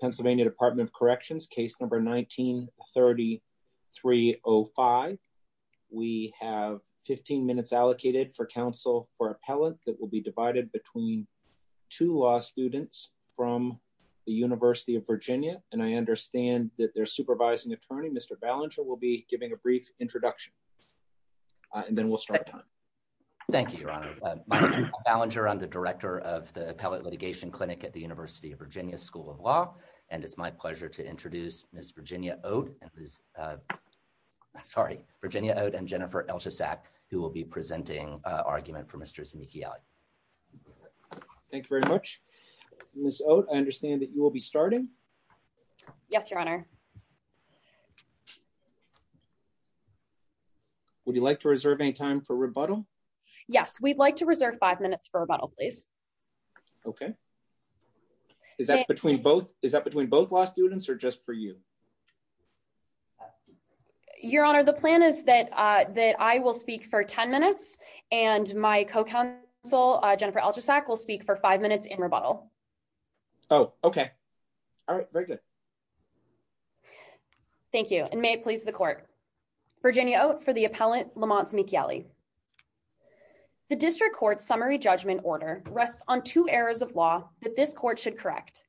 PA Dept of Corrections Case No. 19-3305. We have 15 minutes allocated for counsel for appellate that will be divided between two law students from the University of Virginia, and I understand that their supervising attorney, Mr. Ballinger, will be giving a brief introduction, and then we'll start. Thank you, Your Honor. My name is Paul Ballinger. I'm the Director of the Appellate Litigation Clinic at the University of Virginia School of Law, and it's my pleasure to introduce Ms. Virginia Oat and Jennifer Elshusak, who will be presenting argument for Mr. Zemechieli. Thank you very much. Ms. Oat, I understand that you will be starting? Yes, Your Honor. Would you like to reserve any time for rebuttal? Yes, we'd like to reserve five minutes for rebuttal. Okay. Is that between both law students or just for you? Your Honor, the plan is that I will speak for 10 minutes, and my co-counsel, Jennifer Elshusak, will speak for five minutes in rebuttal. Oh, okay. All right, very good. Thank you, and may it please the Court. Virginia Oat for the Appellant Lamont Zemechieli. The District Court's summary judgment order rests on two errors of law that this Court should correct.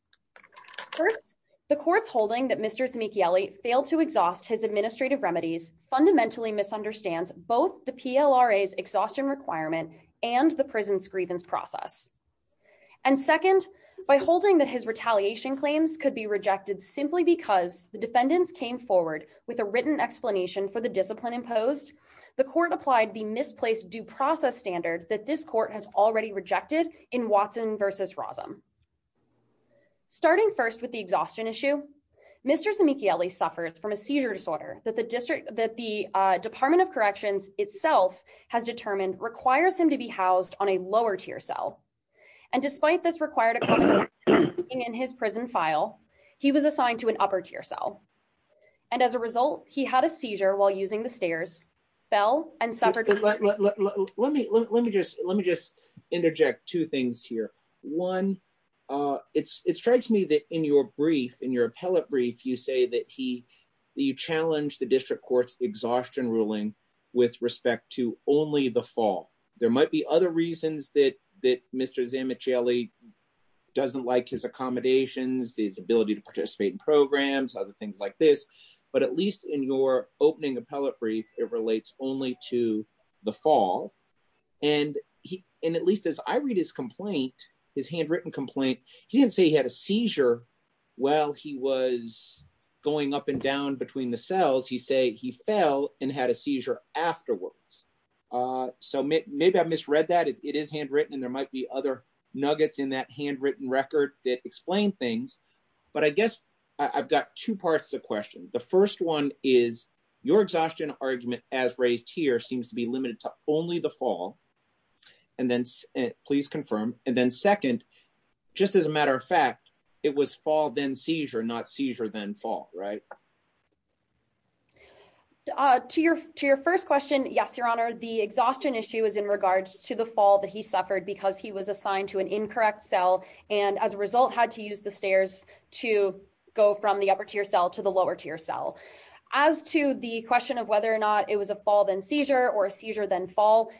First, the Court's holding that Mr. Zemechieli failed to exhaust his administrative remedies fundamentally misunderstands both the PLRA's exhaustion requirement and the prison's grievance process. And second, by holding that his retaliation claims could be rejected simply because the defendants came forward with a written explanation for the discipline imposed, the Court applied the misplaced due process standards that this Court has already rejected in Watson v. Rossum. Starting first with the exhaustion issue, Mr. Zemechieli suffers from a seizure disorder that the Department of Corrections itself has determined requires him to be housed on a lower-tier cell. And despite this required a correction in his prison file, he was assigned to an upper-tier cell. And as a result, he had a seizure while using the stairs cell. Let me just interject two things here. One, it strikes me that in your brief, in your appellate brief, you say that he challenged the District Court's exhaustion ruling with respect to only the fall. There might be other reasons that Mr. Zemechieli doesn't like his accommodations, his ability to participate in programs, other things like this, but at least in your opening appellate brief, it relates only to the fall. And at least as I read his complaint, his handwritten complaint, he didn't say he had a seizure while he was going up and down between the cells. He said he fell and had a seizure afterwards. So maybe I misread that. It is handwritten and there might be other nuggets in that handwritten record that explain things, but I guess I've got two parts to the question. The first one is your exhaustion argument as raised here seems to be limited to only the fall. And then please confirm. And then second, just as a matter of fact, it was fall, then seizure, not seizure, then fall, right? To your first question, yes, Your Honor, the exhaustion issue is in regards to the fall that suffered because he was assigned to an incorrect cell and as a result had to use the stairs to go from the upper tier cell to the lower tier cell. As to the question of whether or not it was a fall, then seizure, or a seizure, then fall,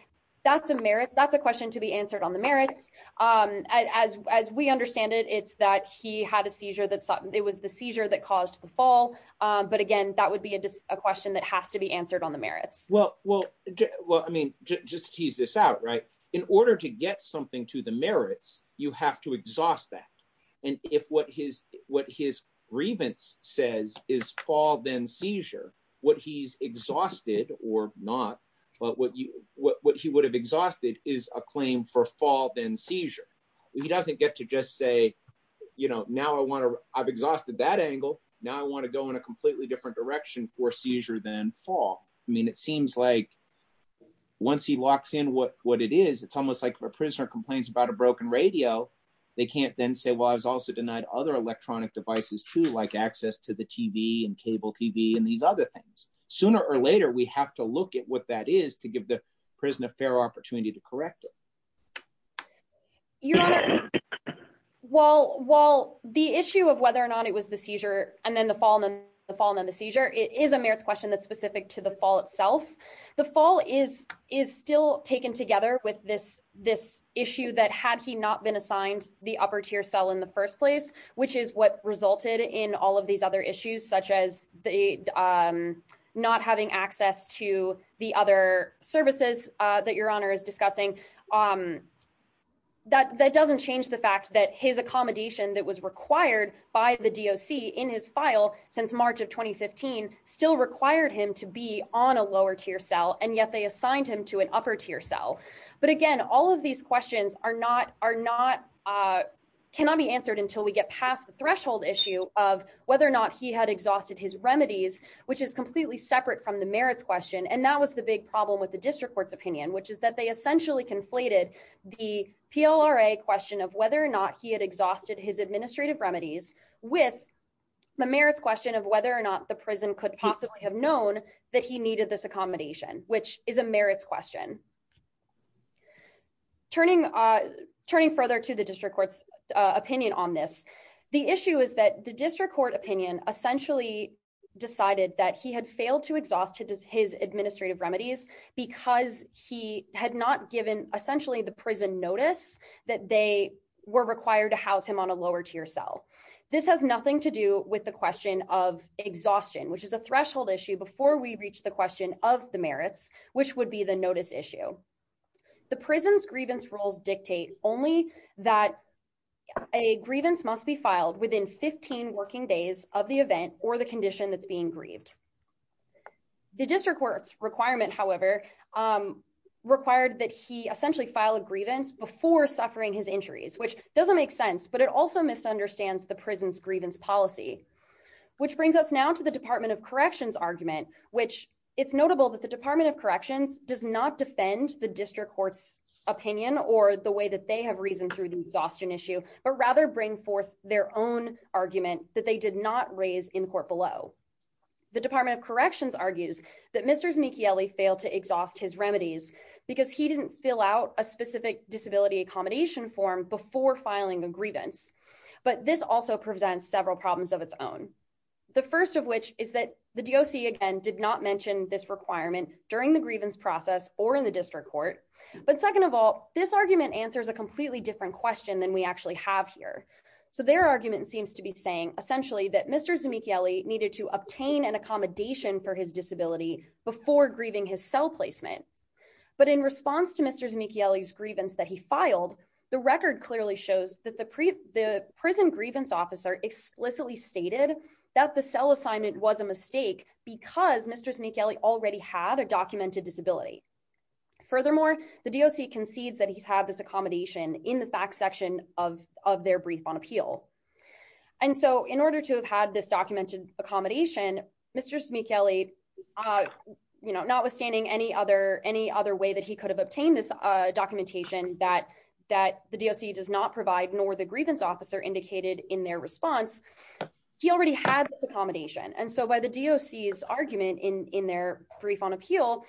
that's a merit. That's a question to be answered on the merit. As we understand it, it's that he had a seizure that it was the seizure that caused the fall. But again, that would be a question that has to be answered on the merit. Well, I mean, just tease this out, right? In order to get something to the merits, you have to exhaust that. And if what his grievance says is fall, then seizure, what he's exhausted or not, what he would have exhausted is a claim for fall, then seizure. He doesn't get to just say, now I've exhausted that angle. Now I want to go in a completely different direction for seizure than fall. I mean, it seems like once he walks in what it is, it's almost like if a prisoner complains about a broken radio, they can't then say, well, I was also denied other electronic devices too, like access to the TV and cable TV and these other things. Sooner or later, we have to look at what that is to give the prison a fair opportunity to correct it. Your Honor, while the issue of whether or not it was the seizure and then the fall and then the seizure, it is a merits question that's specific to the fall itself. The fall is still taken together with this issue that had he not been assigned the upper tier cell in the first place, which is what resulted in all of these other issues, such as not having access to the other services that Your Honor is discussing. That doesn't change the fact that his accommodation that was required by the DOC in his file since March of 2015 still required him to be on a lower tier cell, and yet they assigned him to an upper tier cell. But again, all of these questions cannot be answered until we get past the threshold issue of whether or not he had exhausted his administrative remedies with the merits question of whether or not the prison could possibly have known that he needed this accommodation, which is a merits question. Turning further to the district court's opinion on this, the issue is that the district court essentially decided that he had failed to exhaust his administrative remedies because he had not given essentially the prison notice that they were required to house him on a lower tier cell. This has nothing to do with the question of exhaustion, which is a threshold issue before we reach the question of the merits, which would be the notice issue. The prison's grievance rules dictate only that a grievance must be filed within 15 working days of the event or the condition that's being grieved. The district court's requirement, however, required that he essentially file a grievance before suffering his injuries, which doesn't make sense, but it also misunderstands the prison's grievance policy, which brings us now to the Department of Corrections argument, which it's notable that the Department of Corrections does not defend the district court's or the way that they have reasoned through the exhaustion issue, but rather bring forth their own argument that they did not raise in court below. The Department of Corrections argues that Mr. Znicchielli failed to exhaust his remedies because he didn't fill out a specific disability accommodation form before filing the grievance, but this also presents several problems of its own. The first of which is that the DOC, again, did not mention this requirement during the grievance process or in the district court, but second of all, this argument answers a completely different question than we actually have here. So their argument seems to be saying essentially that Mr. Znicchielli needed to obtain an accommodation for his disability before grieving his cell placement, but in response to Mr. Znicchielli's grievance that he filed, the record clearly shows that the prison grievance officer explicitly stated that the cell assignment was a mistake because Mr. Znicchielli already had a documented disability. Furthermore, the DOC concedes that he's had this accommodation in the back section of their brief on appeal. And so in order to have had this documented accommodation, Mr. Znicchielli, you know, notwithstanding any other way that he could have obtained this documentation that the DOC does not provide nor the grievance officer indicated in their response, he already had this accommodation. And so by the DOC's argument in their brief on appeal,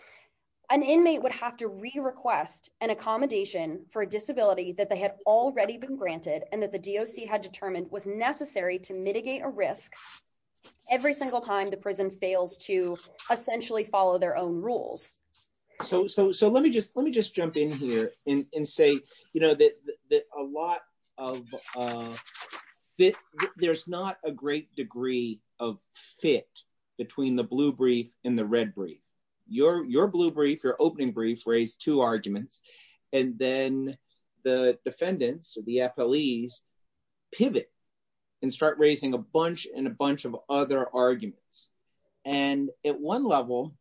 an inmate would have to re-request an accommodation for a disability that they had already been granted and that the DOC had determined was necessary to mitigate a risk every single time the prison fails to essentially follow their own rules. So let me just jump in here and say, you know, that a lot of this, there's not a great degree of fit between the blue brief and the red brief. Your blue brief, your opening brief raised two arguments, and then the defendants, the FLEs, pivot and start raising a bunch and a bunch of other arguments. And at one level,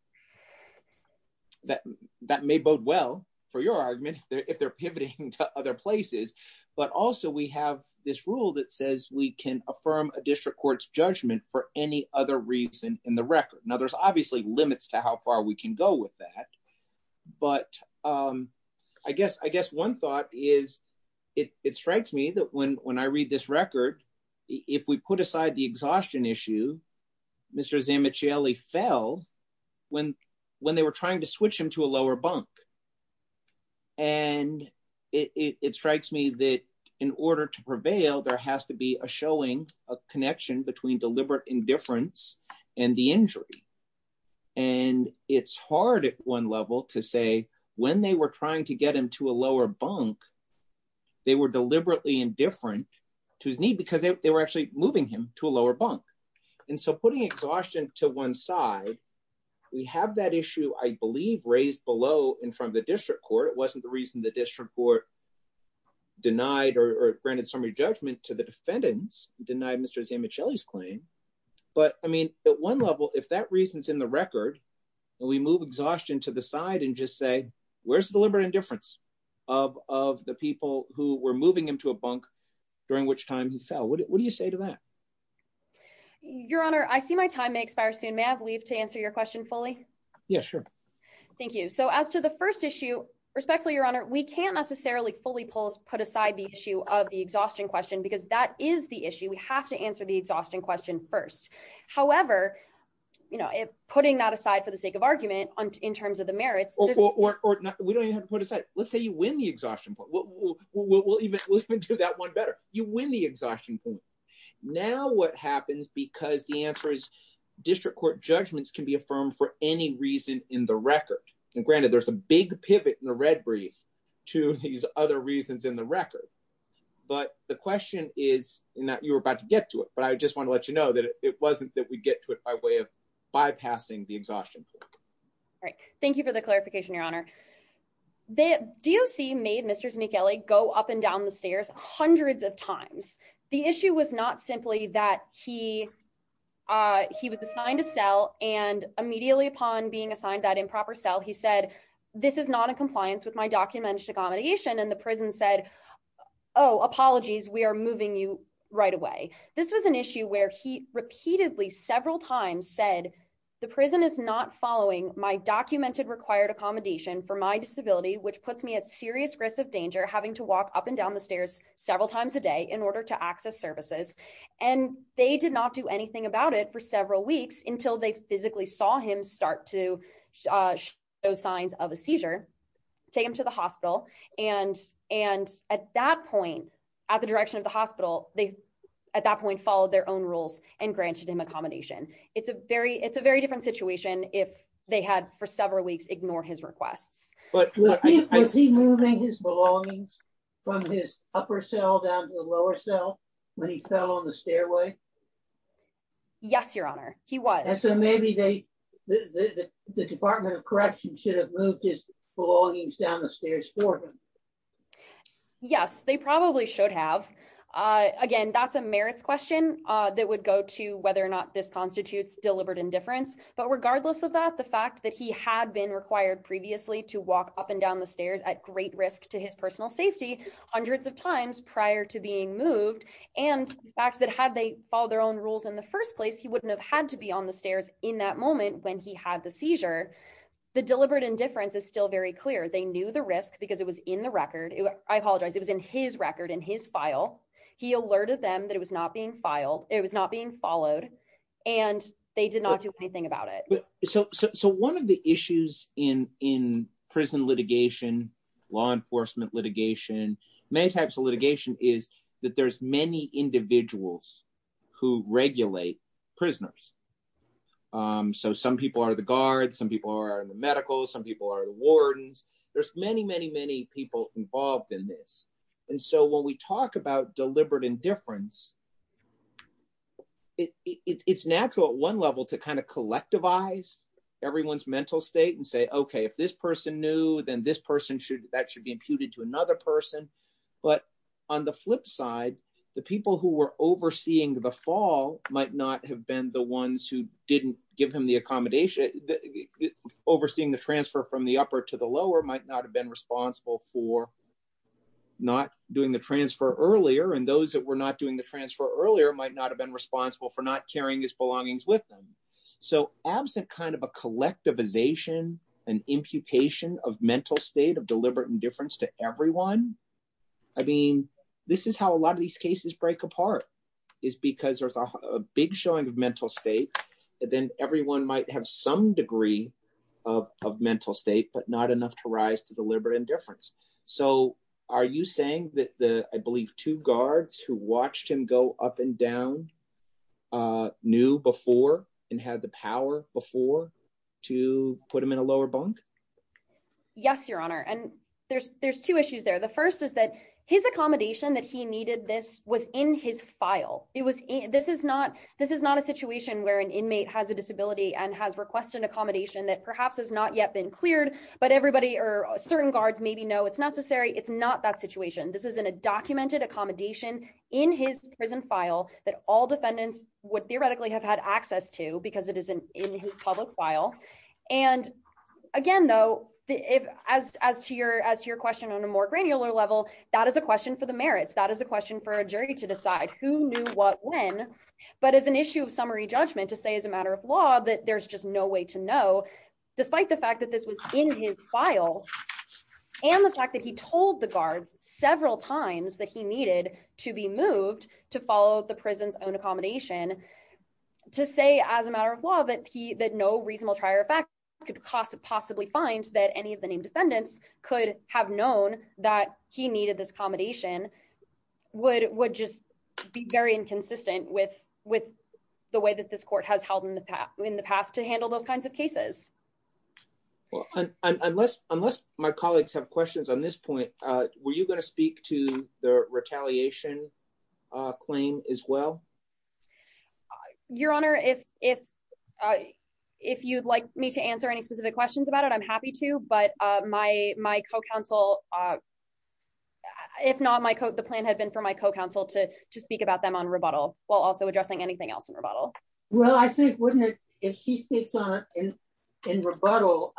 that may bode well for your argument if they're pivoting to other places, but also we have this rule that says we can affirm a district court's judgment for any other reason in the record. Now, there's obviously limits to how far we can go with that, but I guess one thought is, it strikes me that when I read this record, if we put aside the exhaustion issue, Mr. Zanmichielli fell when they were trying to switch him to a lower bunk. And it strikes me that in order to prevail, there has to be a showing, a connection between deliberate indifference and the injury. And it's hard at one level to say when they were trying to get him to a lower bunk, they were deliberately indifferent to his need because they were actually moving him to a lower bunk. And so putting exhaustion to one side, we have that issue, I believe, raised below in front of the district court. It wasn't the reason the district court denied or granted summary judgment to the defendants, denied Mr. Zanmichielli's claim. But I mean, at one level, if that reason's in the record, and we move exhaustion to the side and just say, where's the deliberate indifference of the people who were moving him to a bunk during which time he fell? What do you say to that? Your Honor, I see my time expires soon. May I have leave to answer your question fully? Yeah, sure. Thank you. So as to the first issue, respectfully, Your Honor, we can't necessarily fully put aside the issue of the exhaustion question because that is the issue. We have to answer the exhaustion question first. However, putting that aside for the sake of argument in terms of the merits... We don't even have to put it aside. Let's say you win the exhaustion point. We'll even do that one better. You win the exhaustion point. Now what happens, because the answer is district court judgments can be affirmed for any reason in the record. And granted, there's a big pivot in the red breeze to these other reasons in the record. But the question is, you were about to get to it, but I just want to let you know that it wasn't that we get to it by way of bypassing the exhaustion. All right. Thank you for the clarification, Your Honor. The DOC made Mr. Zmichele go up and down the stairs hundreds of times. The issue was not simply that he was assigned a cell and immediately upon being assigned that improper cell, he said, this is not in compliance with my documentation. And the prison said, oh, apologies. We are moving you right away. This was an issue where he repeatedly several times said the prison is not following my documented required accommodation for my disability, which puts me at serious risk of danger having to walk up and down the stairs several times a day in order to access services. And they did not do anything about it for several weeks until they physically saw him start to show signs of a seizure, take him to the hospital. And at that point, at the direction of the DOC, they followed their own rules and granted him accommodation. It's a very different situation if they had for several weeks ignored his request. But was he moving his belongings from his upper cell down to the lower cell when he fell on the stairway? Yes, Your Honor. He was. And so maybe the Department of Corrections should have moved his belongings down the stairs for him. Yes, they probably should have. Again, that's a merits question that would go to whether or not this constitutes deliberate indifference. But regardless of that, the fact that he had been required previously to walk up and down the stairs at great risk to his personal safety hundreds of times prior to being moved and the fact that had they followed their own rules in the first place, he wouldn't have had to be on the stairs in that moment when he had the seizure. The deliberate indifference is still very clear. They knew the risk because it was in the record. I apologize. It was in his record, in his file. He alerted them that it was not being followed and they did not do anything about it. So one of the issues in prison litigation, law enforcement litigation, many types of litigation, is that there's many individuals who regulate prisoners. So some people are the guards, some people are in the medical, some people are the wardens. There's many, many, many people involved in this. And so when we talk about deliberate indifference, it's natural at one level to kind of collectivize everyone's mental state and say, okay, if this person knew, then this person should, that should be imputed to another person. But on the flip side, the people who were overseeing the fall might not have been the ones who didn't give him the accommodation. Overseeing the transfer from the upper to the lower might not have been responsible for not doing the transfer earlier. And those that were not doing the transfer earlier might not have been responsible for not carrying his belongings with them. So absent kind of a collectivization, an imputation of mental state of deliberate indifference to everyone, I mean, this is how a lot of these cases break apart, is because there's a big showing of mental state that then everyone might have some degree of mental state, but not enough to rise to deliberate indifference. So are you saying that the, I believe two guards who watched him go up and down knew before and had the power before to put him in a lower bunk? Yes, Your Honor. And there's two issues there. The first is that his accommodation that he needed this was in his file. This is not a situation where an inmate has a disability and has to request an accommodation that perhaps has not yet been cleared, but everybody or certain guards maybe know it's necessary. It's not that situation. This is in a documented accommodation in his prison file that all defendants would theoretically have had access to because it is in his public file. And again, though, as to your question on a more granular level, that is a question for the merits. That is a question for a jury to decide who knew what when. But as an issue of summary judgment, to say as a matter of law that there's just no way to know, despite the fact that this was in his file and the fact that he told the guards several times that he needed to be moved to follow the prison's own accommodation, to say as a matter of law that he, that no reasonable prior fact could possibly find that any of the named defendants could have known that he needed this accommodation would just be very inconsistent with the way that this court has held in the past to handle those kinds of cases. Well, unless my colleagues have questions on this point, were you going to speak to the retaliation claim as well? Your Honor, if you'd like me to answer any specific questions about it, I'm happy to. But my co-counsel, if not, the plan had been for my co-counsel to speak about them on rebuttal while also addressing anything else in rebuttal. Well, I think if she speaks in rebuttal,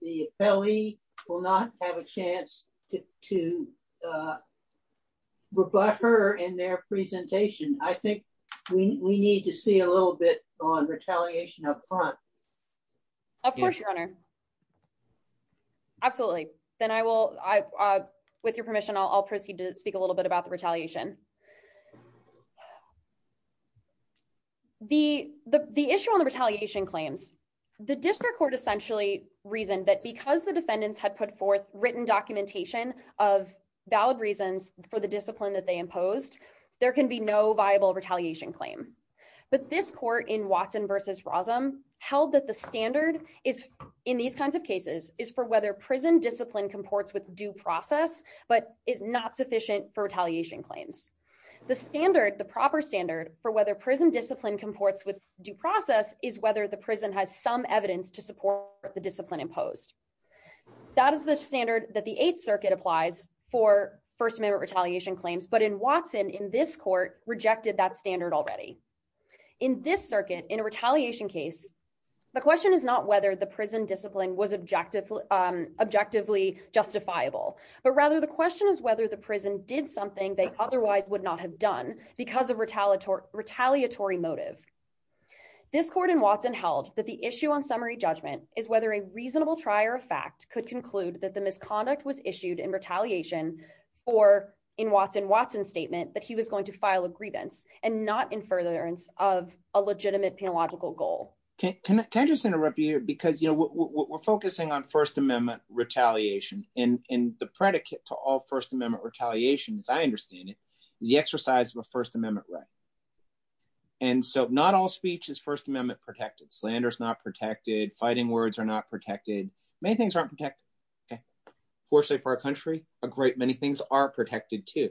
the affiliate will not have a chance to rebut her in their presentation. I think we need to see a little bit on retaliation up front. Of course, Your Honor. Absolutely. Then I will, with your permission, I'll proceed to speak a little bit about the retaliation. The issue on the retaliation claims, the district court essentially reasoned that because the defendants had put forth written documentation of valid reasons for the discipline that they imposed, there can be no viable retaliation claim. But this court in Watson versus Rosam held that the standard in these kinds of cases is for whether prison discipline comports with due process, but is not sufficient for retaliation claims. The standard, the proper standard for whether prison discipline comports with due process is whether the prison has some evidence to support the discipline imposed. That is the standard that the Eighth Circuit applies for First Amendment retaliation claims. But in Watson, in this court, rejected that standard already. In this circuit, in a retaliation case, the question is not whether the prison discipline was objectively justifiable, but rather the question is whether the prison did something they otherwise would not have done because of retaliatory motive. This court in Watson held that the issue on summary judgment is whether a reasonable trier of fact could conclude that the misconduct was issued in retaliation for, in Watson's statement, that he was going to file a grievance and not in furtherance of a legitimate penological goal. Can I just interrupt you here? Because we're focusing on First Amendment retaliation and the predicate to all First Amendment retaliation, as I understand it, is the exercise of a First Amendment right. And so not all speech is First Amendment protected. Slander is not protected. Fighting words are not protected. Many things aren't protected. Okay. Unfortunately for our are protected too.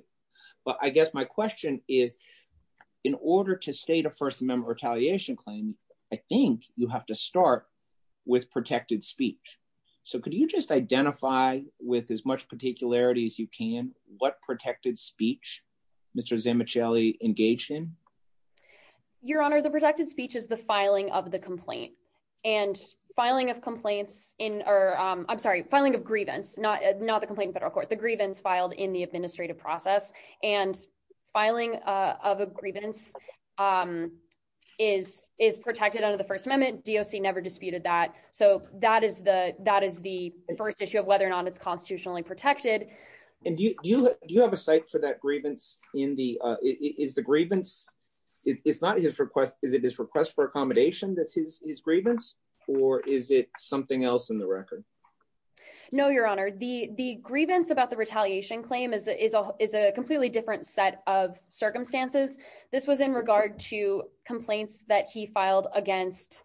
But I guess my question is, in order to state a First Amendment retaliation claim, I think you have to start with protected speech. So could you just identify with as much particularity as you can what protected speech Mr. Zemecheli engaged in? Your Honor, the protected speech is the filing of the complaint. And filing of complaints in, or I'm sorry, filing of grievance, not the complaint in federal court, the grievance filed in the administrative process. And filing of a grievance is protected under the First Amendment. DOC never disputed that. So that is the first issue of whether or not it's constitutionally protected. And do you have a cite for that grievance in the, is the grievance, it's not his request, is it his request for accommodation that's his grievance? Or is it else in the record? No, Your Honor. The grievance about the retaliation claim is a completely different set of circumstances. This was in regard to complaints that he filed against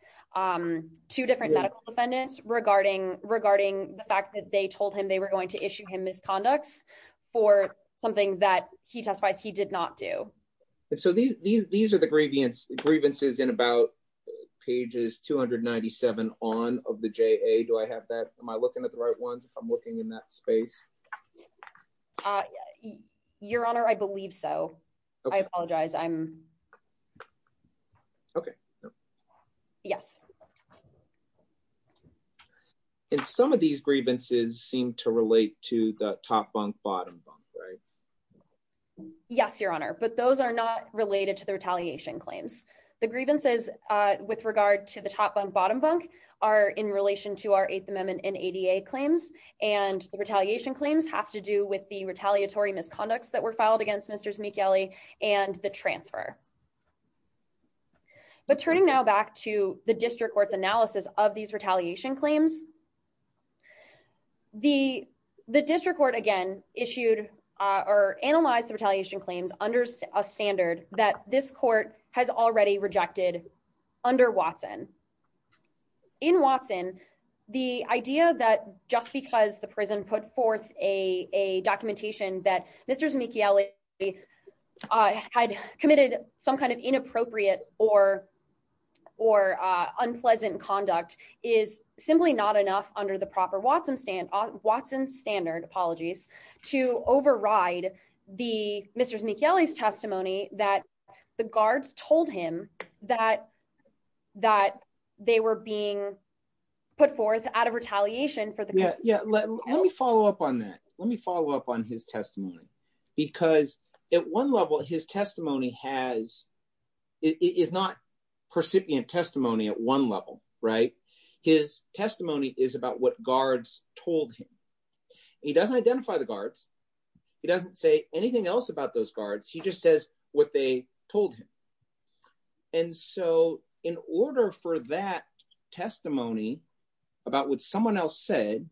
two different medical defendants regarding the fact that they told him they were going to issue him misconducts for something that he testified he did not do. So these are the Do I have that? Am I looking at the right ones? I'm looking in that space. Your Honor, I believe so. I apologize. I'm okay. Yes. And some of these grievances seem to relate to the top bunk, bottom bunk, right? Yes, Your Honor. But those are not related to the retaliation claims. The grievances with regard to top bunk, bottom bunk are in relation to our Eighth Amendment and ADA claims. And the retaliation claims have to do with the retaliatory misconducts that were filed against Mr. Zmichelli and the transfer. But turning now back to the district court's analysis of these retaliation claims, the district court again, issued or analyzed the retaliation claims under a standard that this court has already rejected under Watson. In Watson, the idea that just because the prison put forth a documentation that Mr. Zmichelli had committed some kind of inappropriate or unpleasant conduct is simply not enough under the proper Watson standard to override the testimony that the guards told him that they were being put forth out of retaliation. Let me follow up on that. Let me follow up on his testimony. Because at one level, his testimony is not percipient testimony at one level, right? His testimony is about what guards told him. He doesn't identify the guards. He doesn't say anything else about those guards. He just says what they told him. And so in order for that testimony about what someone else said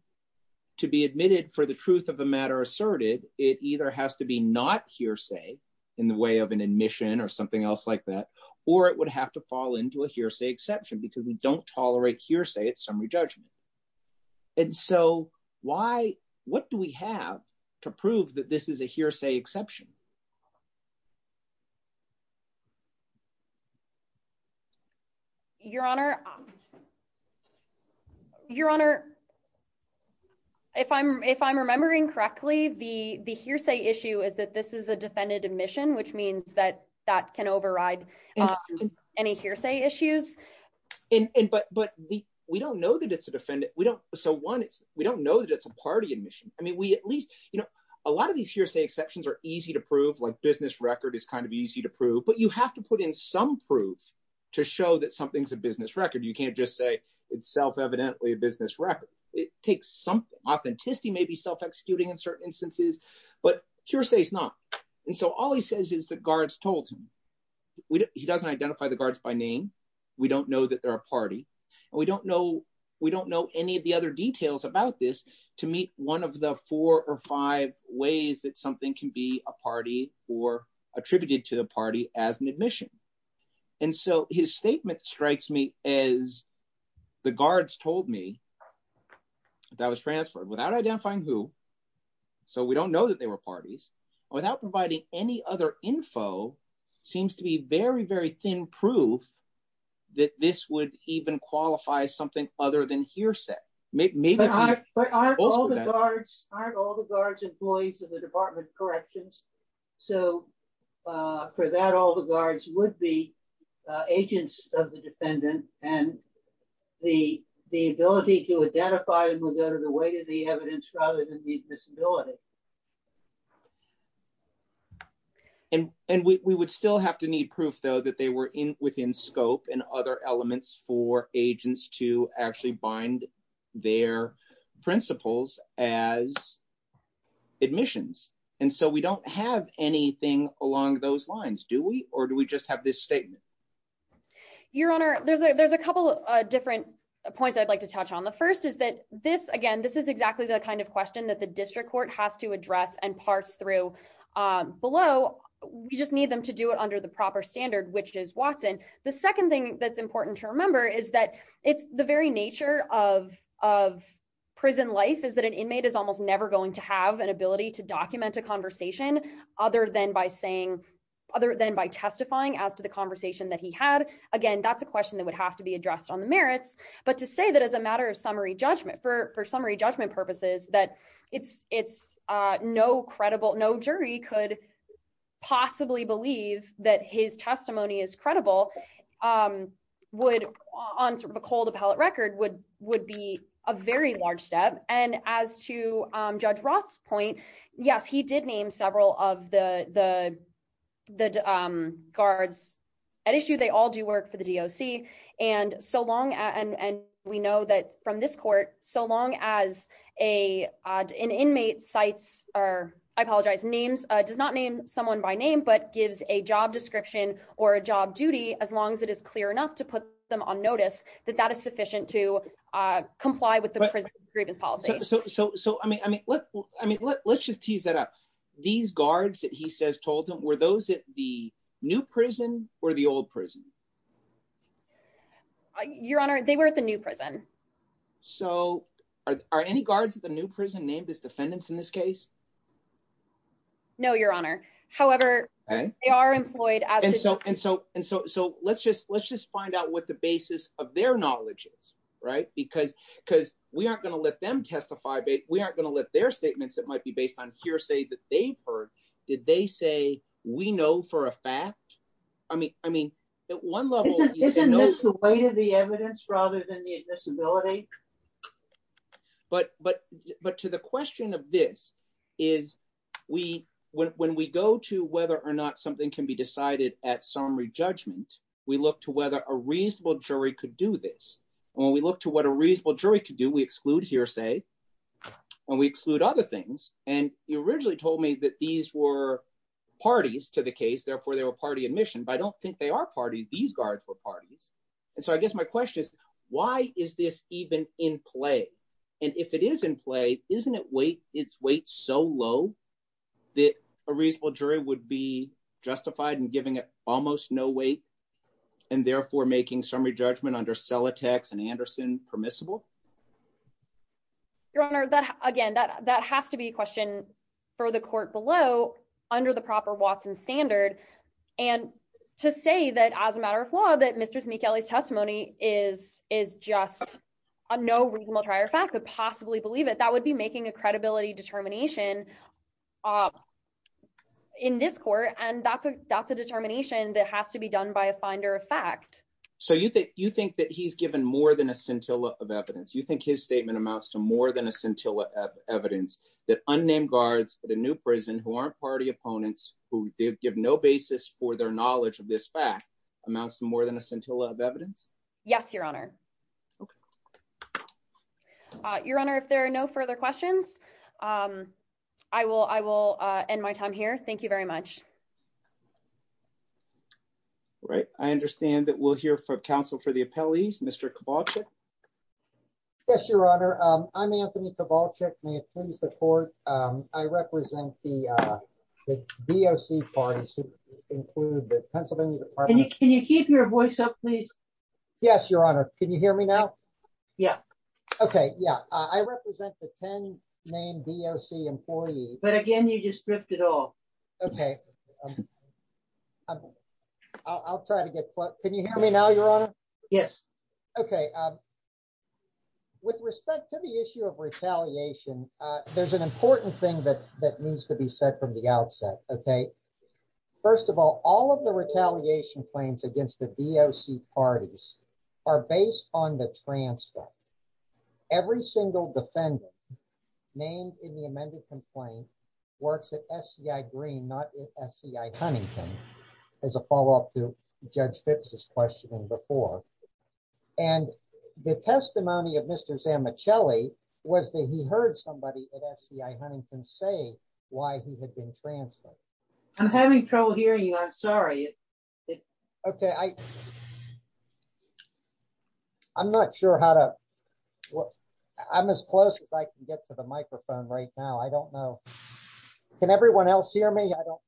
to be admitted for the truth of the matter asserted, it either has to be not hearsay in the way of an admission or something else like that, or it would have to fall into a hearsay exception because we don't tolerate hearsay at summary judgment. And so what do we have to prove that this is a hearsay exception? Your Honor, if I'm remembering correctly, the hearsay issue is that this is a defendant admission, which means that that can override any hearsay issues. But we don't know that it's a defendant. So one, we don't know that it's a party admission. I mean, a lot of these hearsay exceptions are easy to prove, like business record is kind of easy to prove, but you have to put in some proof to show that something's a business record. You can't just say it's self-evidently a business record. It takes some authenticity, maybe self-executing in certain instances, but hearsay is not. And so all he says is that guards told him. He doesn't identify the guards by name. We don't know that they're a party. We don't know any of the other details about this to meet one of the four or five ways that something can be a party or attributed to the party as an admission. And so his statement strikes me as the guards told me that was transferred without identifying who, so we don't know that they were parties, without providing any other info, seems to be very, very thin proof that this would even qualify something other than hearsay. But aren't all the guards employees of the Department of Corrections? So for that, all the guards would be agents of the defendant and the ability to identify the way to the evidence rather than the disability. And we would still have to need proof, though, that they were in within scope and other elements for agents to actually bind their principles as admissions. And so we don't have anything along those lines, do we? Or do we just have this statement? Your Honor, there's a couple of different points I'd like to touch on. The first is that this is exactly the kind of question that the district court has to address and parse through below. We just need them to do it under the proper standard, which is Watson. The second thing that's important to remember is that the very nature of prison life is that an inmate is almost never going to have an ability to document a conversation other than by saying, other than by testifying as to the conversation that he had. Again, that's a question that would have to be addressed on the merits. But to say that as a matter of summary judgment, for summary judgment purposes, that no jury could possibly believe that his testimony is credible on the whole of the record would be a very large step. And as to Judge Roth's point, yes, he did name several of the guards at issue. They all do work for the DOC. And we know that from this court, so long as an inmate does not name someone by name but gives a job description or a job duty, as long as it is clear enough to put them on notice, that that is sufficient to These guards that he says told him, were those at the new prison or the old prison? Your Honor, they were at the new prison. So are any guards at the new prison named as defendants in this case? No, Your Honor. However, they are employed at the new prison. And so let's just find out what the basis of their knowledge is, right? Because we aren't going to let them testify. We aren't going to let their statements that might be based on hearsay that they've heard, did they say, we know for a fact? I mean, at one level, Isn't this the weight of the evidence rather than the admissibility? But to the question of this is, when we go to whether or not something can be decided at summary judgment, we look to whether a reasonable jury could do this. When we look to what a reasonable that these were parties to the case, therefore they were party admission, but I don't think they are parties. These guards were parties. And so I guess my question is, why is this even in play? And if it is in play, isn't it weight, it's weight so low that a reasonable jury would be justified in giving it almost no weight and therefore making summary judgment under and Anderson permissible. Your honor, that again, that, that has to be a question for the court below under the proper Watson standard. And to say that as a matter of law, that Mr. Sneakily testimony is, is just a, no reasonable trier fact would possibly believe it. That would be making a credibility determination in this court. And that's a, that's a determination that has to be done by a finder of fact. So you think, you think that he's given more than a scintilla of evidence. You think his statement amounts to more than a scintilla of evidence that unnamed guards, the new prison who aren't party opponents who did give no basis for their knowledge of this fact amounts to more than a scintilla of evidence. Yes, your honor. Your honor, if there are no further questions, I will, I will end my time here. Thank you very much. All right. I understand that we'll hear from counsel for the appellees. Mr. Kowalczyk. Yes, your honor. I'm Anthony Kowalczyk. May it please the court. I represent the, the DOC parties include the Pennsylvania department. Can you keep your voice up, please? Yes, your honor. Can you hear me now? Yeah. Okay. Yeah. I represent the 10 main DOC employees, but again, you just ripped it off. Okay. I'll, I'll try to get, can you hear me now, your honor? Yes. Okay. With respect to the issue of retaliation, there's an important thing that, that needs to be said from the outset. Okay. First of all, all of the retaliation claims against the DOC parties are based on the transcript. Every single defendant named in the amended complaint works at SCI Green, not SCI Huntington. There's a follow-up to Judge Fitz's question before. And the testimony of Mr. Zammichelli was that he heard somebody at SCI Huntington say why he had been transferred. I'm having trouble hearing you. I'm sorry. Okay. I, I'm not sure how to, I'm as close as I can get to the microphone right now. I don't know. Can everyone else hear me? I don't.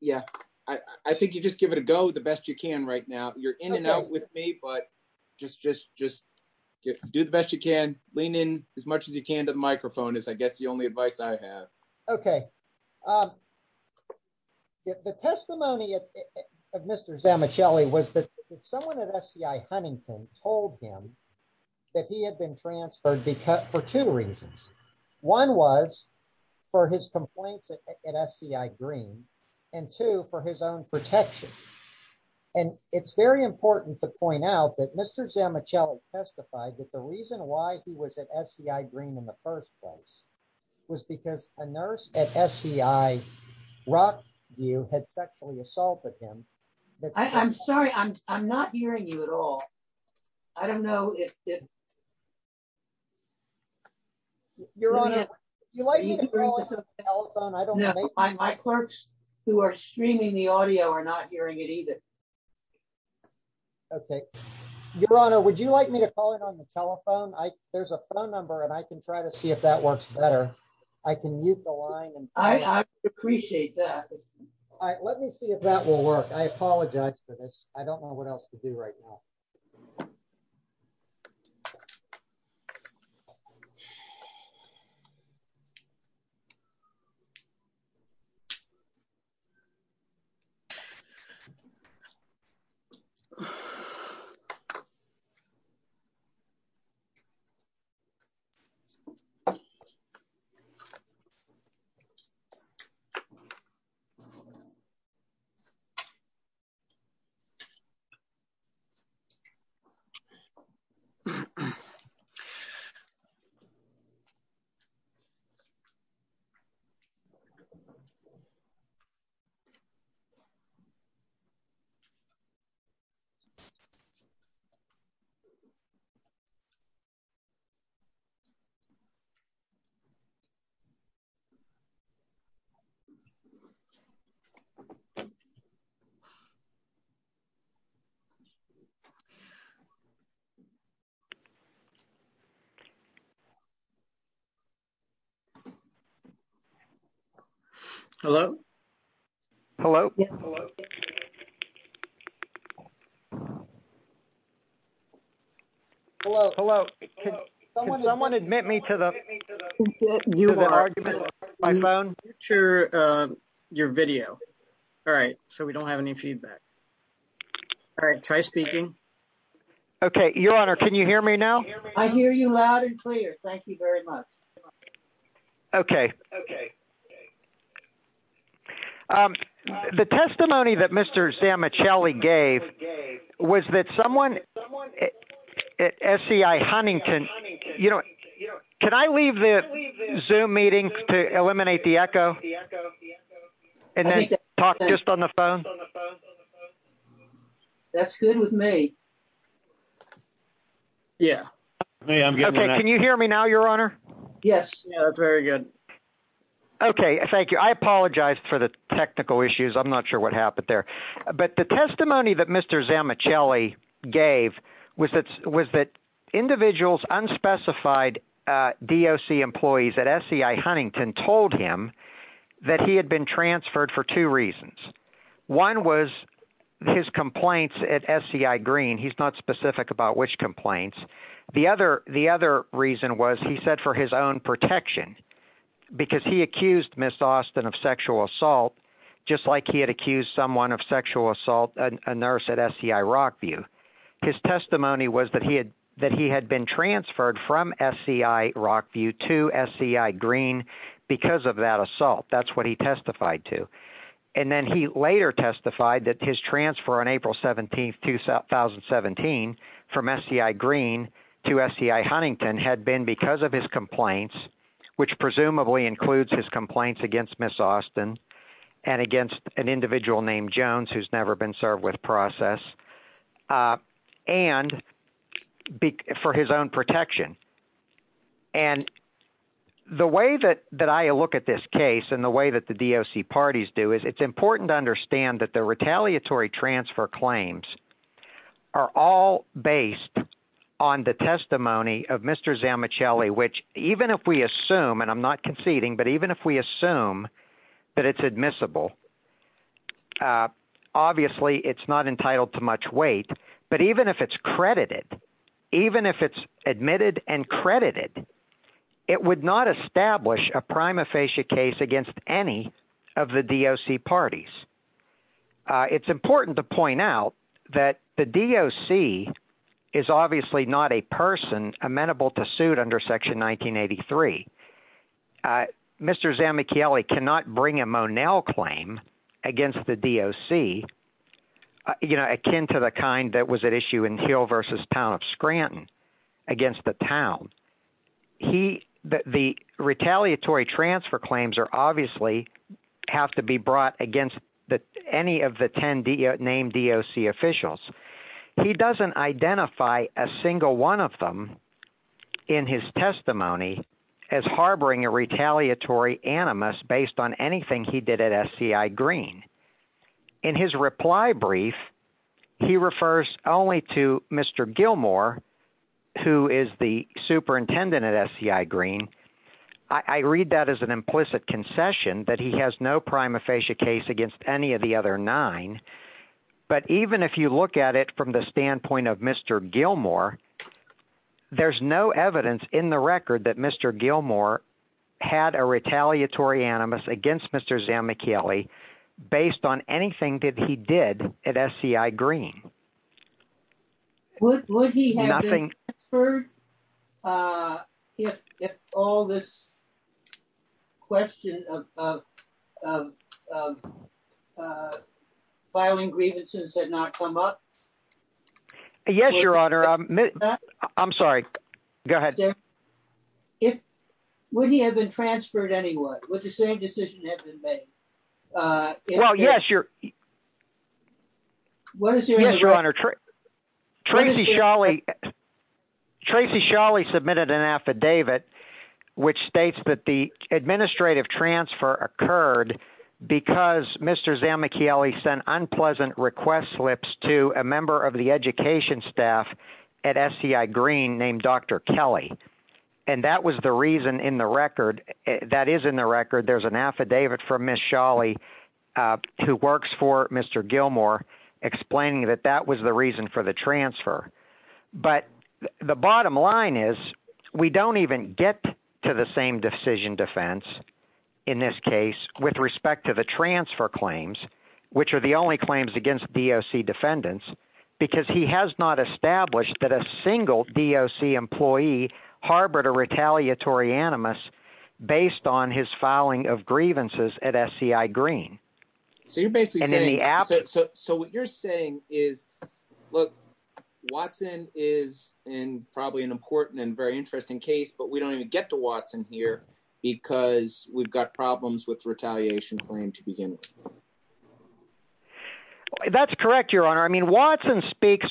Yeah. I think you just give it a go the best you can right now. You're in and out with me, but just, just, just do the best you can. Lean in as much as you can to the microphone as I get the only advice I have. Okay. The testimony of Mr. Zammichelli was that someone at SCI Huntington told him that he had been transferred for two reasons. One was for his complaints at SCI Green and two for his own protection. And it's very important to point out that Mr. Zammichelli testified that the reason why he was at SCI Green in the first place was because a nurse at SCI Rockview had sexually assaulted him. I'm sorry. I'm, I'm not hearing you at all. I don't know if it. Your Honor, would you like me to call it on the telephone? I don't know. My clerks who are streaming the audio are not hearing it either. Okay. Your Honor, would you like me to call it on the telephone? I, there's a phone number and I can try to see if that works better. I can use the line. I appreciate that. All right. Let me see if that will work. I apologize for this. I don't know what else to do right now. Alrighty. Hello. Hello. Hello. Hello. Someone admit me to the argument. I'm sure your video. All right. So we don't have any feedback. All right. Try speaking. Okay. Your honor. Can you hear me now? I hear you loud and clear. Thank you very much. Okay. Okay. The testimony that Mr. Sam, a Shelley gave was that someone at Huntington, you know, can I leave the zoom meetings to eliminate the echo and then talk just on the phone on the phone on the phone? That's good with me. Yeah, I'm good. Okay. Can you hear me now? Your honor? Yes. Yeah. Very good. Okay. Thank you. I apologize for the technical issues. I'm not sure what happened there. But the testimony that Mr. Sam, a Shelley gave was that was that individuals unspecified D. O. C. employees at S. C. I. Huntington told him that he had been transferred for two reasons. One was his complaints at S. C. I. Green. He's not specific about which complaints the other. The other reason was, he said, for his own protection, because he accused Miss Austin of sexual assault, just like he had accused someone of sexual assault. A nurse at S. C. I. Rockview his testimony was that he had that he had been transferred from S. C. I. Rockview to S. C. I. Green because of that assault. That's what he testified to. And then he later testified that his transfer on April 17th, 2017 from S. C. I. Green to S. C. I. Huntington had been because of his complaints, which presumably includes his complaints against Miss Austin and against an individual named Jones, who's never been served with process and for his own protection. And the way that that I look at this case and the way that the D. O. C. parties do is it's important to understand that the retaliatory transfer claims are all based on the testimony of Mr. Zama Shelley, which even if we assume and I'm not conceding, but even if we assume that it's admissible. Obviously, it's not entitled to much weight, but even if it's credited, even if it's admitted and credited, it would not establish a prima facie case against any of the D. O. C. parties. It's important to point out that the D. O. C. is obviously not a person amenable to suit under Section 1983. Mr. Zama Kelly cannot bring a Monell claim against the D. O. C. akin to the kind that was at issue in Hill versus town of Scranton against the town. The retaliatory transfer claims are obviously have to be brought against any of the 10 D. O. Named D. O. C. officials. He doesn't identify a single one of them in his testimony as harboring a retaliatory animus based on anything he did at S. C. I. Green. In his reply brief, he refers only to Mr. Gilmore, who is the superintendent at S. C. I. Green. I read that as an implicit concession that he has no prima facie case against any of the other nine. But even if you look at it from the standpoint of Mr. Gilmore, there's no evidence in the record that Mr. Gilmore had a retaliatory animus against Mr. Zama Kelly based on anything that he did at S. C. I. Green. Would he have been transferred if all this question of filing grievances had not come up? Yes, Your Honor. I'm sorry. Go ahead. Would he have been transferred anyway? Would the same decision have been made? Well, yes, Your Honor. Tracy Sholly submitted an affidavit which states that the administrative transfer occurred because Mr. Zama Kelly sent unpleasant request slips to a member of the education staff at S. C. I. Green named Dr. Kelly. And that was the reason in the record that is in the record. There's an affidavit from Miss Sholly who works for Mr. Gilmore explaining that that was the reason for the transfer. But the bottom line is we don't even get to the same decision defense in this case with respect to the transfer claims, which are the only claims against D. O. C. defendants, because he has not established that a single D. O. C. employee harbored a retaliatory animus based on his filing of grievances at S. C. I. Green. So you're basically saying, so what you're saying is, look, Watson is in probably an important and very interesting case, but we don't even get to Watson here because we've got problems with retaliation claim to begin with. That's correct, Your Honor. I mean, Watson speaks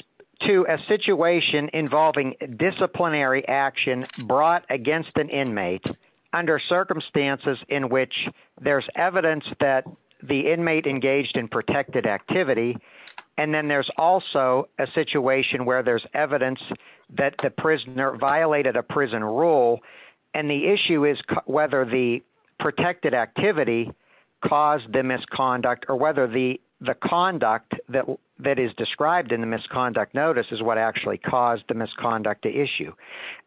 to a situation involving disciplinary action brought against an inmate under circumstances in which there's evidence that the inmate engaged in protected activity. And then there's also a situation where there's evidence that the prisoner violated a prison rule. And the issue is whether the protected activity caused the misconduct or whether the conduct that that is described in the misconduct notice is what actually caused the misconduct issue.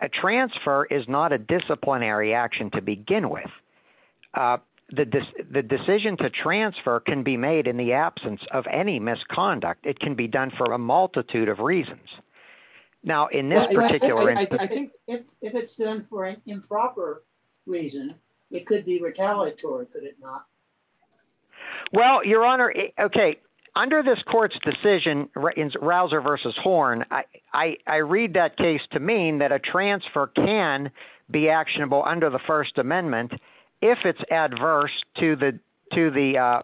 A transfer is not a disciplinary action to begin with. The decision to transfer can be made in the absence of any misconduct. It can be done for a multitude of reasons. Now, in this particular instance, improper reason, it could be retaliatory. Well, Your Honor. Okay. Under this court's decision, Rouser versus Horn, I read that case to mean that a transfer can be actionable under the First Amendment if it's adverse to the to the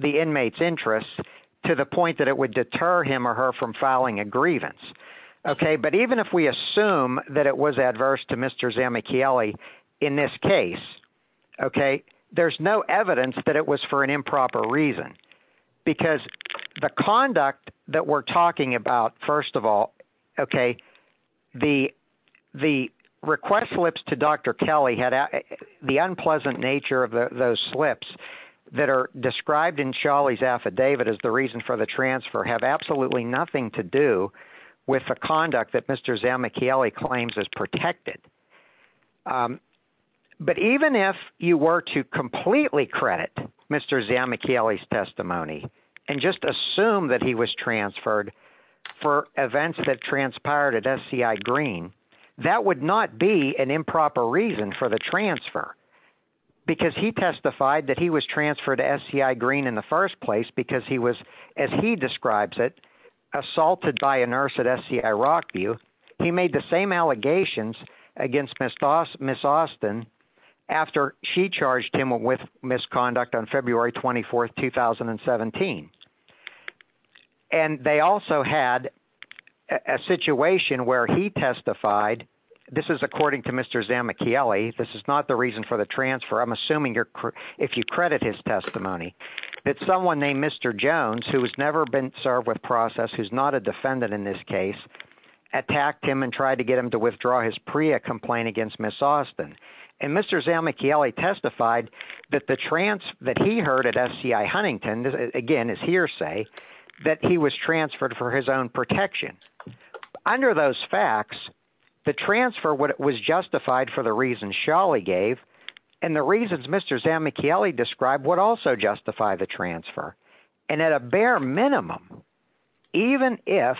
the inmates interest to the point that it would deter him or her from filing a grievance. Okay. But even if we assume that it was adverse to Mr. Zamichaeli in this case, okay, there's no evidence that it was for an improper reason, because the conduct that we're talking about, first of all, okay, the the request slips to Dr. Kelly had the unpleasant nature of those slips that are described in Sholley's affidavit as the reason for the transfer have absolutely nothing to do with the conduct that Mr. Zamichaeli claims is protected. But even if you were to completely credit Mr. Zamichaeli's testimony and just assume that he was transferred for events that transpired at SCI Green, that would not be an improper reason for the transfer. Because he testified that he was transferred to SCI Green in the first place because he was, as he describes it, assaulted by a nurse at SCI Rockview. He made the same allegations against Miss Austin after she charged him with misconduct on February 24th, 2017. And they also had a situation where he testified, this is according to Mr. Zamichaeli, this is not the reason for the transfer, I'm assuming if you credit his testimony, that someone named Mr. Jones, who has never been served with process, who's not a defendant in this case, attacked him and tried to get him to withdraw his PREA complaint against Miss Austin. And Mr. Zamichaeli testified that he heard at SCI Huntington, again it's hearsay, that he was transferred for his own protection. Under those facts, the transfer was justified for the reasons Sholley gave, and the reasons Mr. Zamichaeli described would also justify the transfer. And at a bare minimum, even if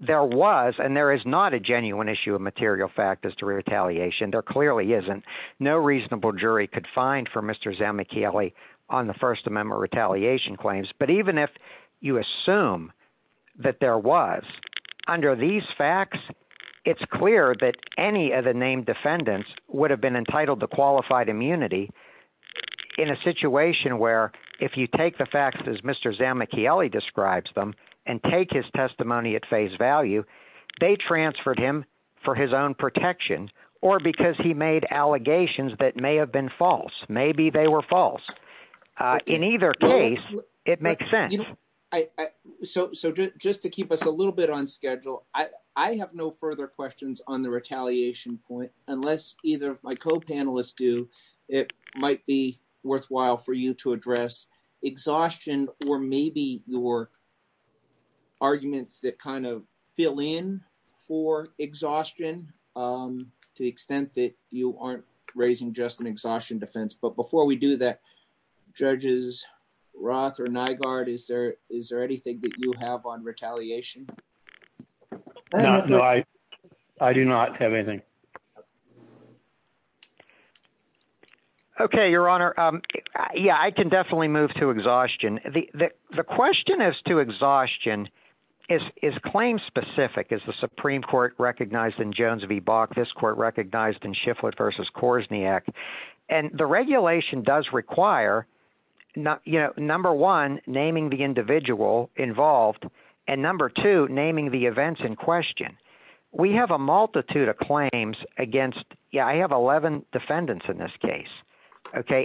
there was, and there is not a genuine issue of material fact as to retaliation, there clearly isn't, no reasonable jury could find for Mr. Zamichaeli on the First Amendment retaliation claims. But even if you assume that there was, under these facts, it's clear that any of the named defendants would have been entitled to qualified immunity in a situation where, if you take the facts as Mr. Zamichaeli describes them, and take his testimony at face value, they transferred him for his own protection, or because he made allegations that may have been false. Maybe they were false. In either case, it makes sense. So just to keep us a little bit on schedule, I have no further questions on the retaliation point, unless either of my co-panelists do, it might be worthwhile for you to address exhaustion, or maybe your arguments that kind of fill in for exhaustion, to the extent that you aren't raising just an exhaustion defense. But before we do that, Judges Roth or Nygaard, is there anything that you have on retaliation? No, I do not have anything. Okay, Your Honor. Yeah, I can definitely move to exhaustion. The question as to exhaustion is claim-specific, as the Supreme Court recognized in Jones v. Bach, this court recognized in Shifflett v. Korsniak. And the regulation does require, number one, naming the individual involved, and number two, naming the events in question. We have a multitude of claims against – yeah, I have 11 defendants in this case.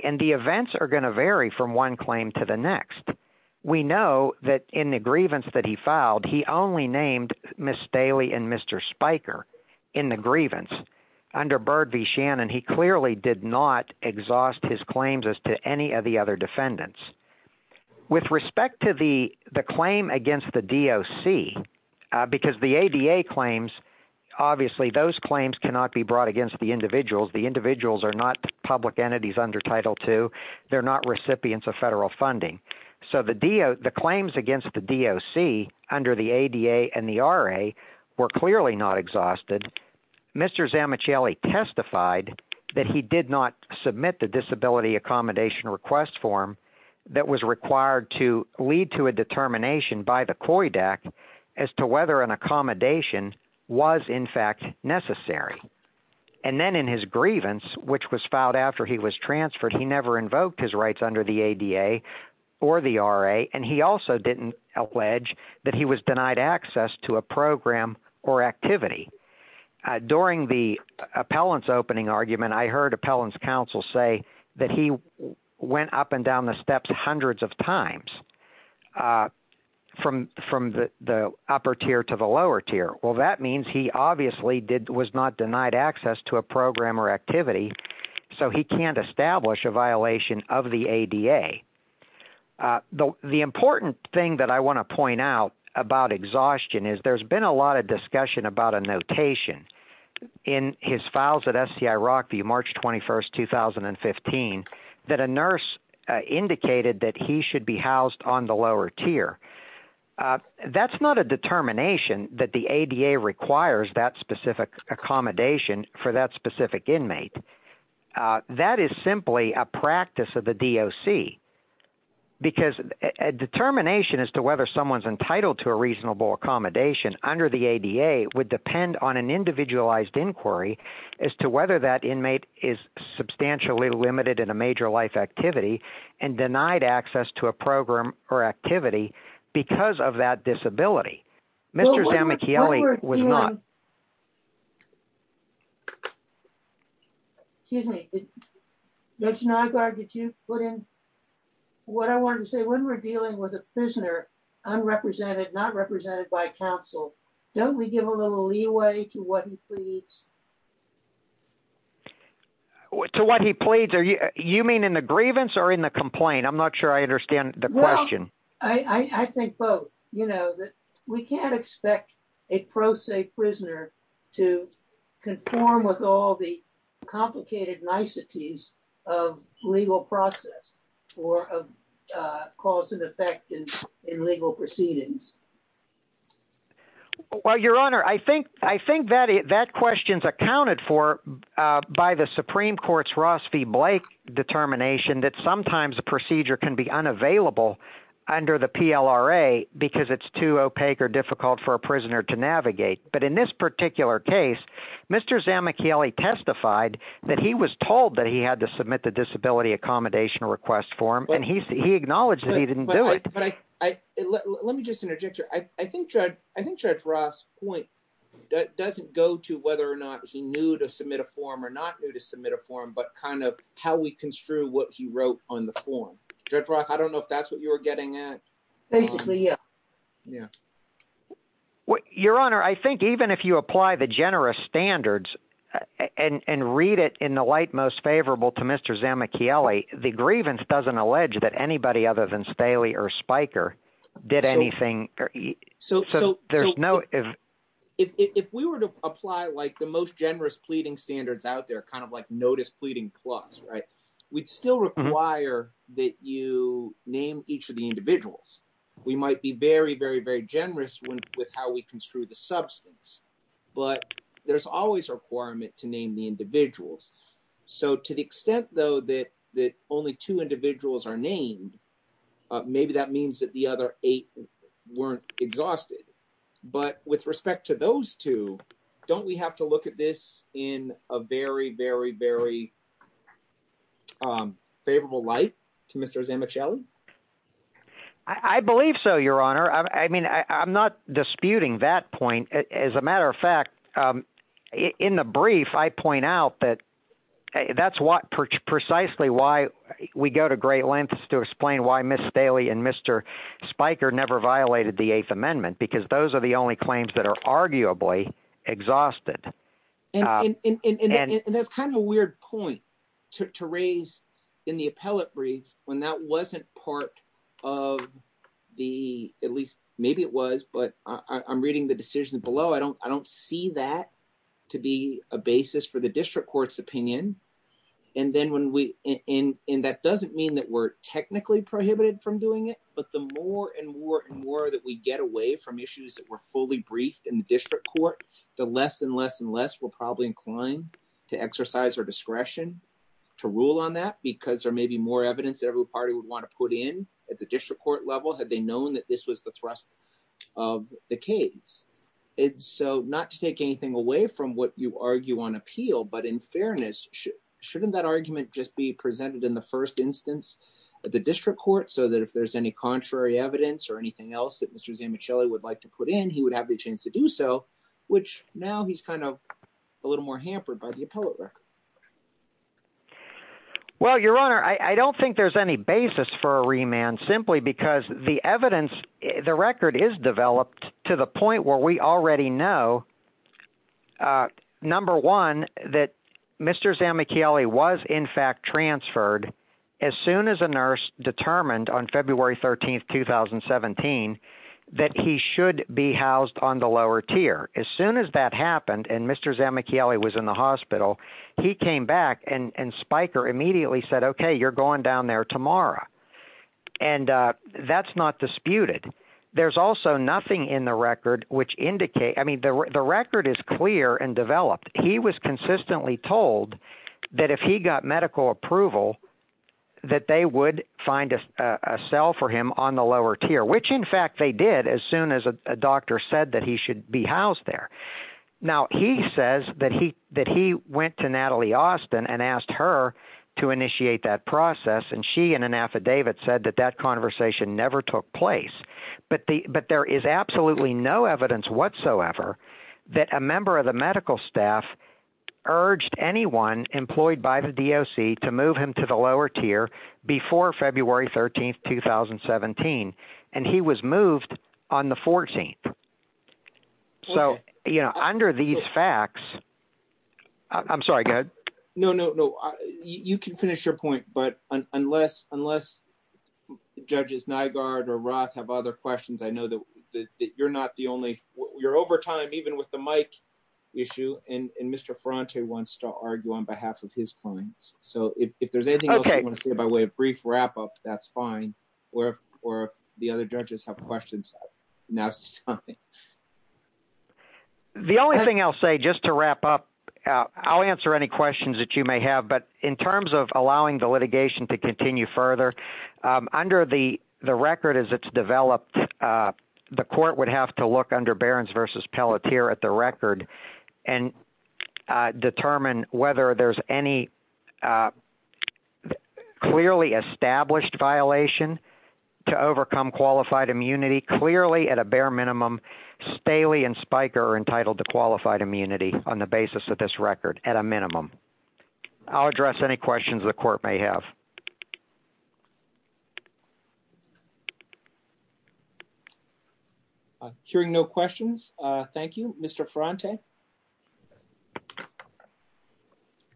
And the events are going to vary from one claim to the next. We know that in the grievance that he filed, he only named Ms. Staley and Mr. Spiker in the grievance. Under Byrd v. Shannon, he clearly did not exhaust his claims as to any of the other defendants. With respect to the claim against the DOC, because the ADA claims, obviously those claims cannot be brought against the individuals. The individuals are not public entities under Title II. They're not recipients of federal funding. So the claims against the DOC under the ADA and the RA were clearly not exhausted. Mr. Zamicheli testified that he did not submit the disability accommodation request form that was required to lead to a determination by the COID Act as to whether an accommodation was in fact necessary. And then in his grievance, which was filed after he was transferred, he never invoked his rights under the ADA or the RA. And he also didn't allege that he was denied access to a program or activity. During the appellant's opening argument, I heard appellant's counsel say that he went up and down the steps hundreds of times from the upper tier to the lower tier. Well, that means he obviously was not denied access to a program or activity, so he can't establish a violation of the ADA. The important thing that I want to point out about exhaustion is there's been a lot of discussion about a notation in his files at STI Rock v. March 21, 2015, that a nurse indicated that he should be housed on the lower tier. That's not a determination that the ADA requires that specific accommodation for that specific inmate. That is simply a practice of the DOC, because a determination as to whether someone's entitled to a reasonable accommodation under the ADA would depend on an individualized inquiry as to whether that inmate is substantially limited in a major life activity and denied access to a program or activity because of that disability. Mr. Zamichieli was not... Excuse me. Judge Naggard, did you put in what I wanted to say? When we're dealing with a prisoner, unrepresented, not represented by counsel, don't we give a little leeway to what he pleads? To what he pleads? You mean in the grievance or in the complaint? I'm not sure I understand the question. I think both. We can't expect a pro se prisoner to conform with all the complicated niceties of legal process or of cause and effect in legal proceedings. Well, Your Honor, I think that question's accounted for by the Supreme Court's Ross v. Blake determination that sometimes the procedure can be unavailable under the PLRA because it's too opaque or difficult for a prisoner to navigate. But in this particular case, Mr. Zamichieli testified that he was told that he had to submit the disability accommodation request form, and he acknowledged that he didn't do it. Let me just interject here. I think Judge Ross' point doesn't go to whether or not he knew to submit a form or not knew to submit a form, but kind of how we construe what he wrote on the form. Judge Ross, I don't know if that's what you were getting at. Basically, yeah. Your Honor, I think even if you apply the generous standards and read it in the light most favorable to Mr. Zamichieli, the grievance doesn't allege that anybody other than Staley or Spiker did anything. If we were to apply the most generous pleading standards out there, kind of like Notice Pleading Plus, we'd still require that you name each of the individuals. We might be very, very, very generous with how we construe the substance, but there's always a requirement to name the individuals. So to the extent, though, that only two individuals are named, maybe that means that the other eight weren't exhausted. But with respect to those two, don't we have to look at this in a very, very, very favorable light to Mr. Zamichieli? I believe so, Your Honor. I mean, I'm not disputing that point. As a matter of fact, in the brief, I point out that that's precisely why we go to great lengths to explain why Ms. Staley and Mr. Spiker never violated the Eighth Amendment, because those are the only claims that are arguably exhausted. And that's kind of a weird point to raise in the appellate brief when that wasn't part of the, at least maybe it was, but I'm reading the decision below. I don't see that to be a basis for the district court's opinion. And that doesn't mean that we're technically prohibited from doing it, but the more and more and more that we get away from issues that were fully briefed in the district court, the less and less and less we're probably inclined to exercise our discretion to rule on that, because there may be more evidence that every party would want to put in at the district court level had they known that this was the thrust of the case. And so not to take anything away from what you argue on appeal, but in fairness, shouldn't that argument just be presented in the first instance at the district court so that if there's any contrary evidence or anything else that Mr. Zamichieli would like to put in, he would have the chance to do so, which now he's kind of a little more hampered by the appellate record. Well, Your Honor, I don't think there's any basis for a remand simply because the evidence, the record is developed to the point where we already know, number one, that Mr. Zamichieli was in fact transferred as soon as a nurse determined on February 13th, 2017, that he should be housed on the lower tier. As soon as that happened and Mr. Zamichieli was in the hospital, he came back and Spiker immediately said, okay, you're going down there tomorrow. And that's not disputed. There's also nothing in the record which indicates – I mean, the record is clear and developed. He was consistently told that if he got medical approval, that they would find a cell for him on the lower tier, which in fact they did as soon as a doctor said that he should be housed there. Now, he says that he went to Natalie Austin and asked her to initiate that process, and she in an affidavit said that that conversation never took place. But there is absolutely no evidence whatsoever that a member of the medical staff urged anyone employed by the DOC to move him to the lower tier before February 13th, 2017, and he was moved on the 14th. So under these facts – I'm sorry, go ahead. No, no, no. You can finish your point, but unless Judges Nygaard or Roth have other questions, I know that you're not the only – you're over time even with the mic issue, and Mr. Ferrante wants to argue on behalf of his clients. So if there's anything else you want to say, by way of brief wrap-up, that's fine, or if the other judges have questions, that's fine. The only thing I'll say, just to wrap up, I'll answer any questions that you may have, but in terms of allowing the litigation to continue further, under the record as it's developed, the court would have to look under Behrens v. Pelletier at the record and determine whether there's any clearly established violation to overcome qualified immunity, clearly, at a bare minimum, Staley and Spiker are entitled to qualified immunity on the basis of this record, at a minimum. I'll address any questions the court may have. Hearing no questions, thank you. Mr. Ferrante? I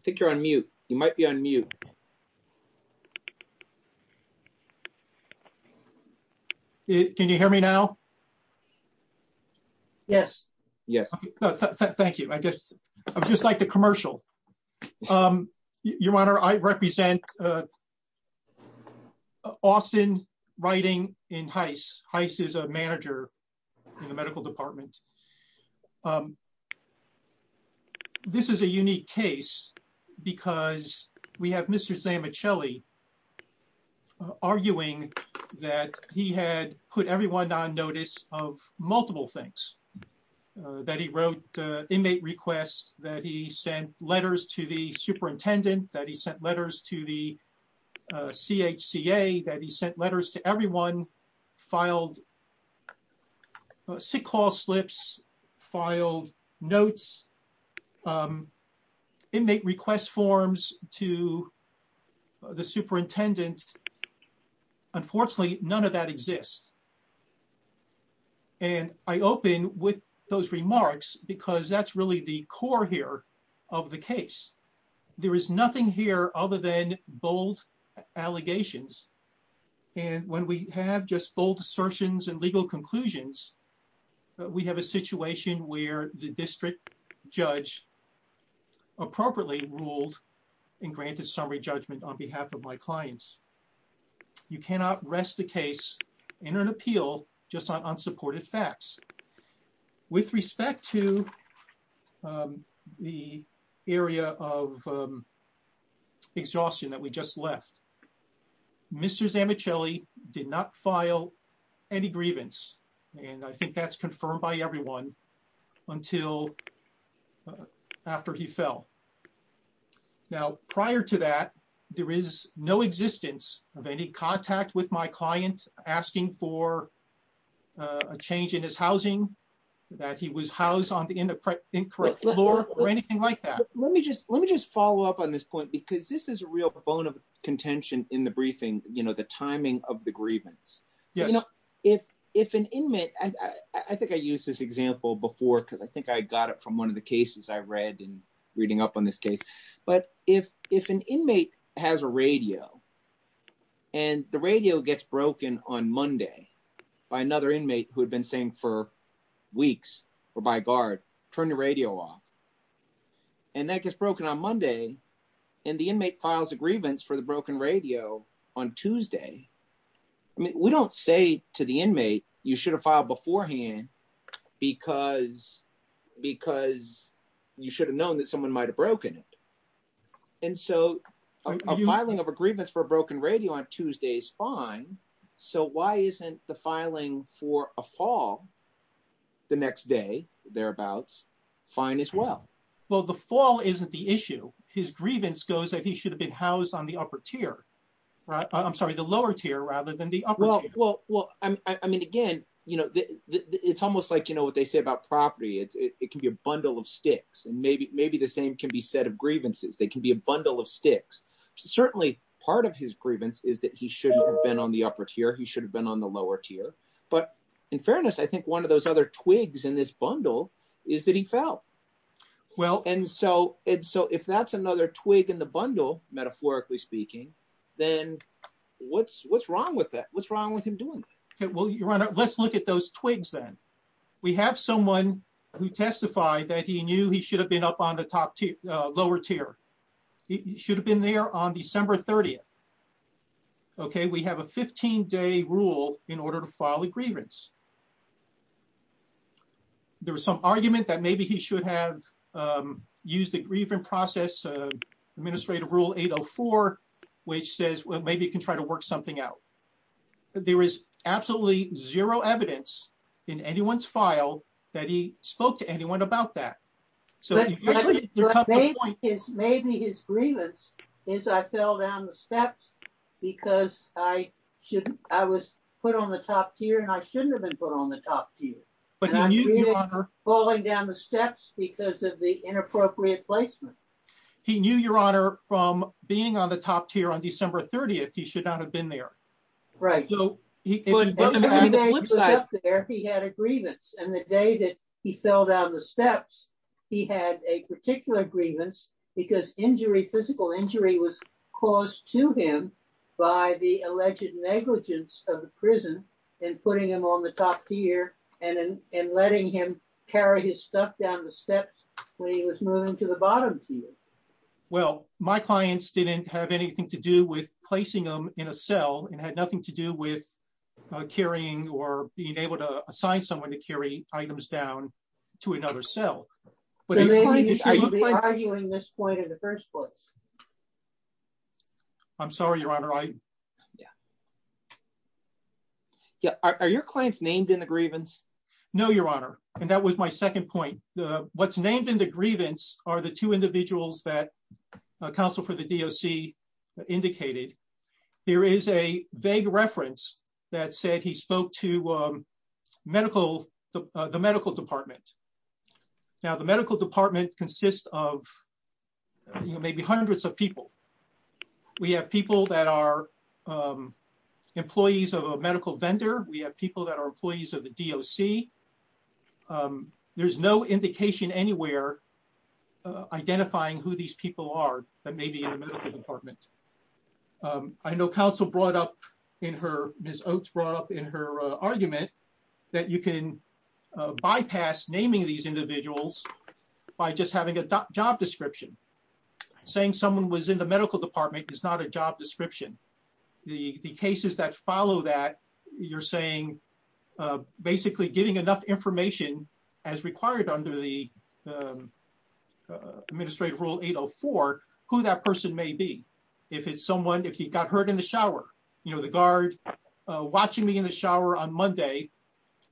think you're on mute. You might be on mute. Can you hear me now? Yes. Yes. Thank you. I'm just like the commercial. Your Honor, I represent Austin Writing in HICE. HICE is a manager in the medical department. This is a unique case because we have Mr. Zamichelli arguing that he had put everyone on notice of multiple things, that he wrote inmate requests, that he sent letters to the superintendent, that he sent letters to the CHCA, that he sent letters to everyone, filed sick-haul slips, filed notes, inmate request forms to the superintendent. Unfortunately, none of that exists. And I open with those remarks because that's really the core here of the case. There is nothing here other than bold allegations. And when we have just bold assertions and legal conclusions, we have a situation where the district judge appropriately ruled and granted summary judgment on behalf of my clients. You cannot rest the case in an appeal just on unsupported facts. With respect to the area of exhaustion that we just left, Mr. Zamichelli did not file any grievance, and I think that's confirmed by everyone, until after he fell. Now, prior to that, there is no existence of any contact with my client asking for a change in his housing, that he was housed on the incorrect floor, or anything like that. Let me just follow up on this point because this is a real bone of contention in the briefing, the timing of the grievance. I think I used this example before because I think I got it from one of the cases I read in reading up on this case. But if an inmate has a radio, and the radio gets broken on Monday by another inmate who had been saying for weeks, or by BARD, turn the radio off. And that gets broken on Monday, and the inmate files a grievance for the broken radio on Tuesday. I mean, we don't say to the inmate, you should have filed beforehand because you should have known that someone might have broken it. And so, a filing of a grievance for a broken radio on Tuesday is fine, so why isn't the filing for a fall the next day, thereabouts, fine as well? Well, the fall isn't the issue. His grievance goes that he should have been housed on the upper tier. I'm sorry, the lower tier rather than the upper tier. Well, I mean, again, it's almost like what they say about property. It can be a bundle of sticks, and maybe the same can be said of grievances. They can be a bundle of sticks. Certainly, part of his grievance is that he should have been on the upper tier, he should have been on the lower tier. But in fairness, I think one of those other twigs in this bundle is that he fell. Well, and so if that's another twig in the bundle, metaphorically speaking, then what's wrong with that? What's wrong with him doing that? Well, Your Honor, let's look at those twigs then. We have someone who testified that he knew he should have been up on the lower tier. He should have been there on December 30th. Okay, we have a 15-day rule in order to file a grievance. There was some argument that maybe he should have used the grievance process, Administrative Rule 804, which says maybe he can try to work something out. There is absolutely zero evidence in anyone's file that he spoke to anyone about that. But maybe his grievance is, I fell down the steps because I was put on the top tier and I shouldn't have been put on the top tier. And I'm really falling down the steps because of the inappropriate placement. He knew, Your Honor, from being on the top tier on December 30th, he should not have been there. And the day he was up there, he had a grievance. And the day that he fell down the steps, he had a particular grievance because physical injury was caused to him by the alleged negligence of the prison in putting him on the top tier and letting him carry his stuff down the steps when he was moving to the bottom tier. Well, my clients didn't have anything to do with placing them in a cell and had nothing to do with carrying or being able to assign someone to carry items down to another cell. Maybe he should be arguing this point in the first place. I'm sorry, Your Honor. Are your clients named in the grievance? No, Your Honor. And that was my second point. What's named in the grievance are the two individuals that counsel for the DOC indicated. There is a vague reference that said he spoke to the medical department. Now, the medical department consists of maybe hundreds of people. We have people that are employees of a medical vendor. We have people that are employees of the DOC. There's no indication anywhere identifying who these people are that may be in the medical department. I know counsel brought up in her argument that you can bypass naming these individuals by just having a job description. Saying someone was in the medical department is not a job description. The cases that follow that, you're saying basically getting enough information as required under the Administrative Rule 804, who that person may be. If it's someone, if he got hurt in the shower, you know, the guard watching me in the shower on Monday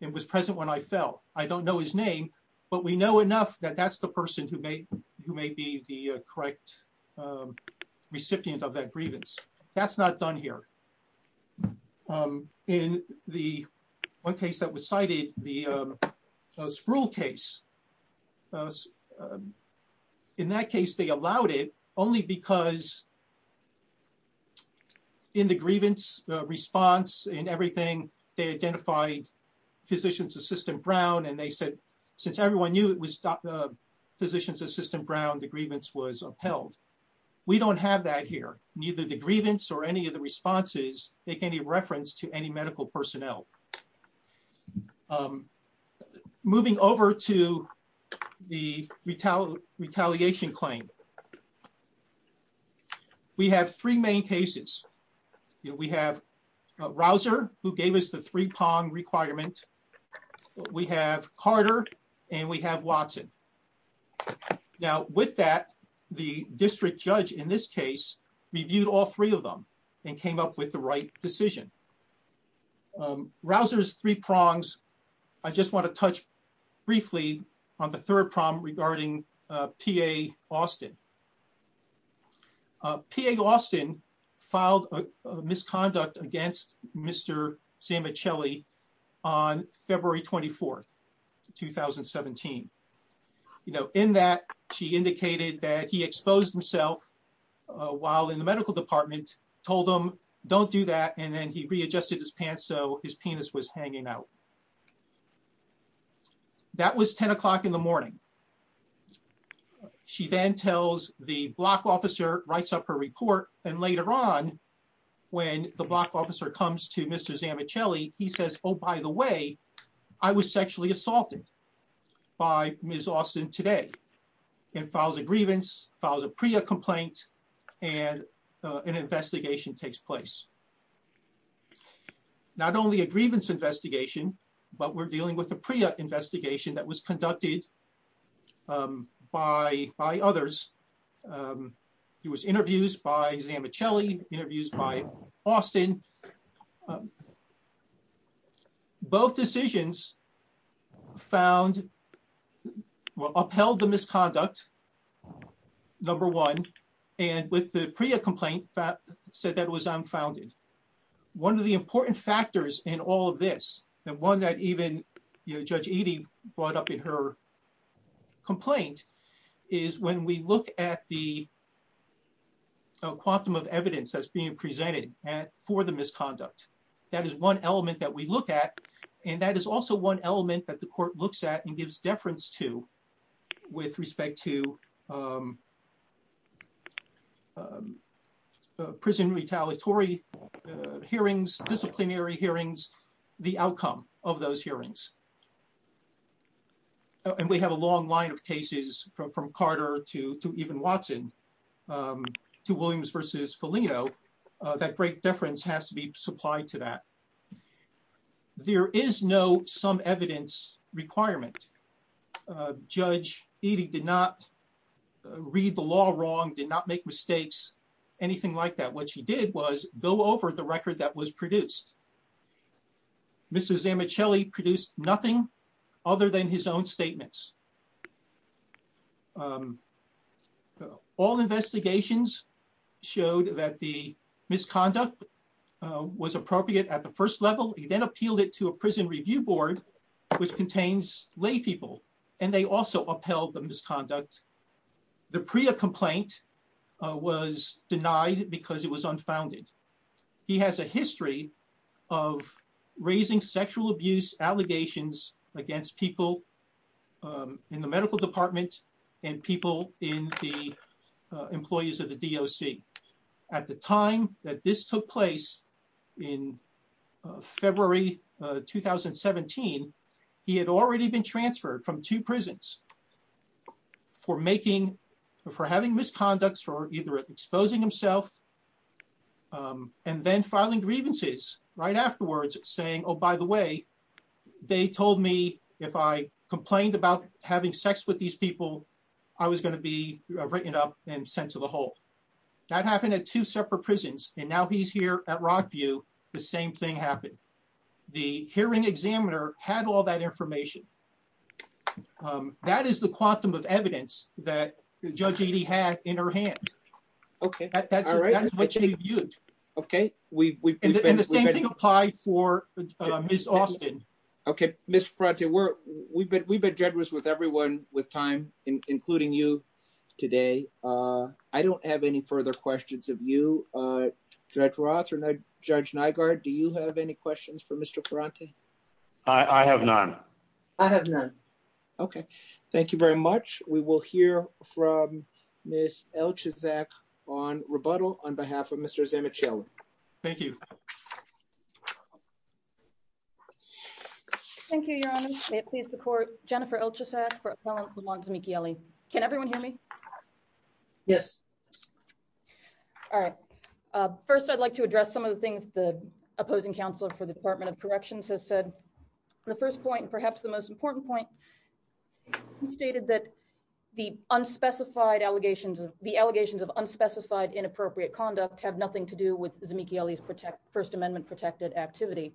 and was present when I fell. I don't know his name, but we know enough that that's the person who may be the correct recipient of that grievance. Now, that's not done here. In the one case that was cited, the Sproul case, in that case they allowed it only because in the grievance response and everything, they identified Physician's Assistant Brown. Since everyone knew it was Physician's Assistant Brown, the grievance was upheld. We don't have that here. Neither the grievance or any of the responses make any reference to any medical personnel. Moving over to the retaliation claim. We have three main cases. We have Rausser, who gave us the three pong requirement. We have Carter, and we have Watson. Now, with that, the district judge in this case reviewed all three of them and came up with the right decision. Rausser's three prongs, I just want to touch briefly on the third prong regarding PA Austin. PA Austin filed a misconduct against Mr. Sammichelli on February 24, 2017. In that, she indicated that he exposed himself while in the medical department, told him, don't do that, and then he readjusted his pants so his penis was hanging out. That was 10 o'clock in the morning. She then tells the block officer, writes up her report, and later on, when the block officer comes to Mr. Sammichelli, he says, oh, by the way, I was sexually assaulted by Ms. Austin today. And files a grievance, files a PREA complaint, and an investigation takes place. Not only a grievance investigation, but we're dealing with a PREA investigation that was conducted by others. It was interviews by Sammichelli, interviews by Austin. Both decisions found, upheld the misconduct, number one, and with the PREA complaint, said that it was unfounded. One of the important factors in all of this, and one that even Judge Edie brought up in her complaint, is when we look at the quantum of evidence that's being presented for the misconduct, that is one element that we look at, and that is also one element that the court looks at and gives deference to with respect to prison retaliatory hearings, disciplinary hearings, the outcome of those hearings. And we have a long line of cases from Carter to even Watson, to Williams versus Felino, that great deference has to be supplied to that. There is no some evidence requirement. Judge Edie did not read the law wrong, did not make mistakes, anything like that. What she did was go over the record that was produced. Mr. Sammichelli produced nothing other than his own statements. All investigations showed that the misconduct was appropriate at the first level. He then appealed it to a prison review board, which contains laypeople, and they also upheld the misconduct. The PREA complaint was denied because it was unfounded. He has a history of raising sexual abuse allegations against people in the medical department and people in the employees of the DOC. At the time that this took place in February 2017, he had already been transferred from two prisons for having misconduct, for either exposing himself and then filing grievances right afterwards, saying, oh, by the way, they told me if I complained about having sex with these people, I was going to be written up and sent to the hole. That happened at two separate prisons, and now he's here at Rockview, the same thing happened. The hearing examiner had all that information. That is the quantum of evidence that Judge Edie had in her hands. That is what she viewed. And the same thing applied for Ms. Austin. We've been generous with everyone with time, including you today. I don't have any further questions of you, Judge Roth or Judge Nygaard. Do you have any questions for Mr. Carrante? I have none. I have none. Okay, thank you very much. We will hear from Ms. Elchizek on rebuttal on behalf of Mr. Zamichelli. Thank you. Thank you, Your Honor. May it please the court, Jennifer Elchizek for a felon who belongs to Meekie Alley. Can everyone hear me? Yes. All right. First, I'd like to address some of the things the opposing counsel for the Department of Corrections has said. The first point, perhaps the most important point, he stated that the allegations of unspecified inappropriate conduct have nothing to do with Zamichelli's First Amendment-protected activity.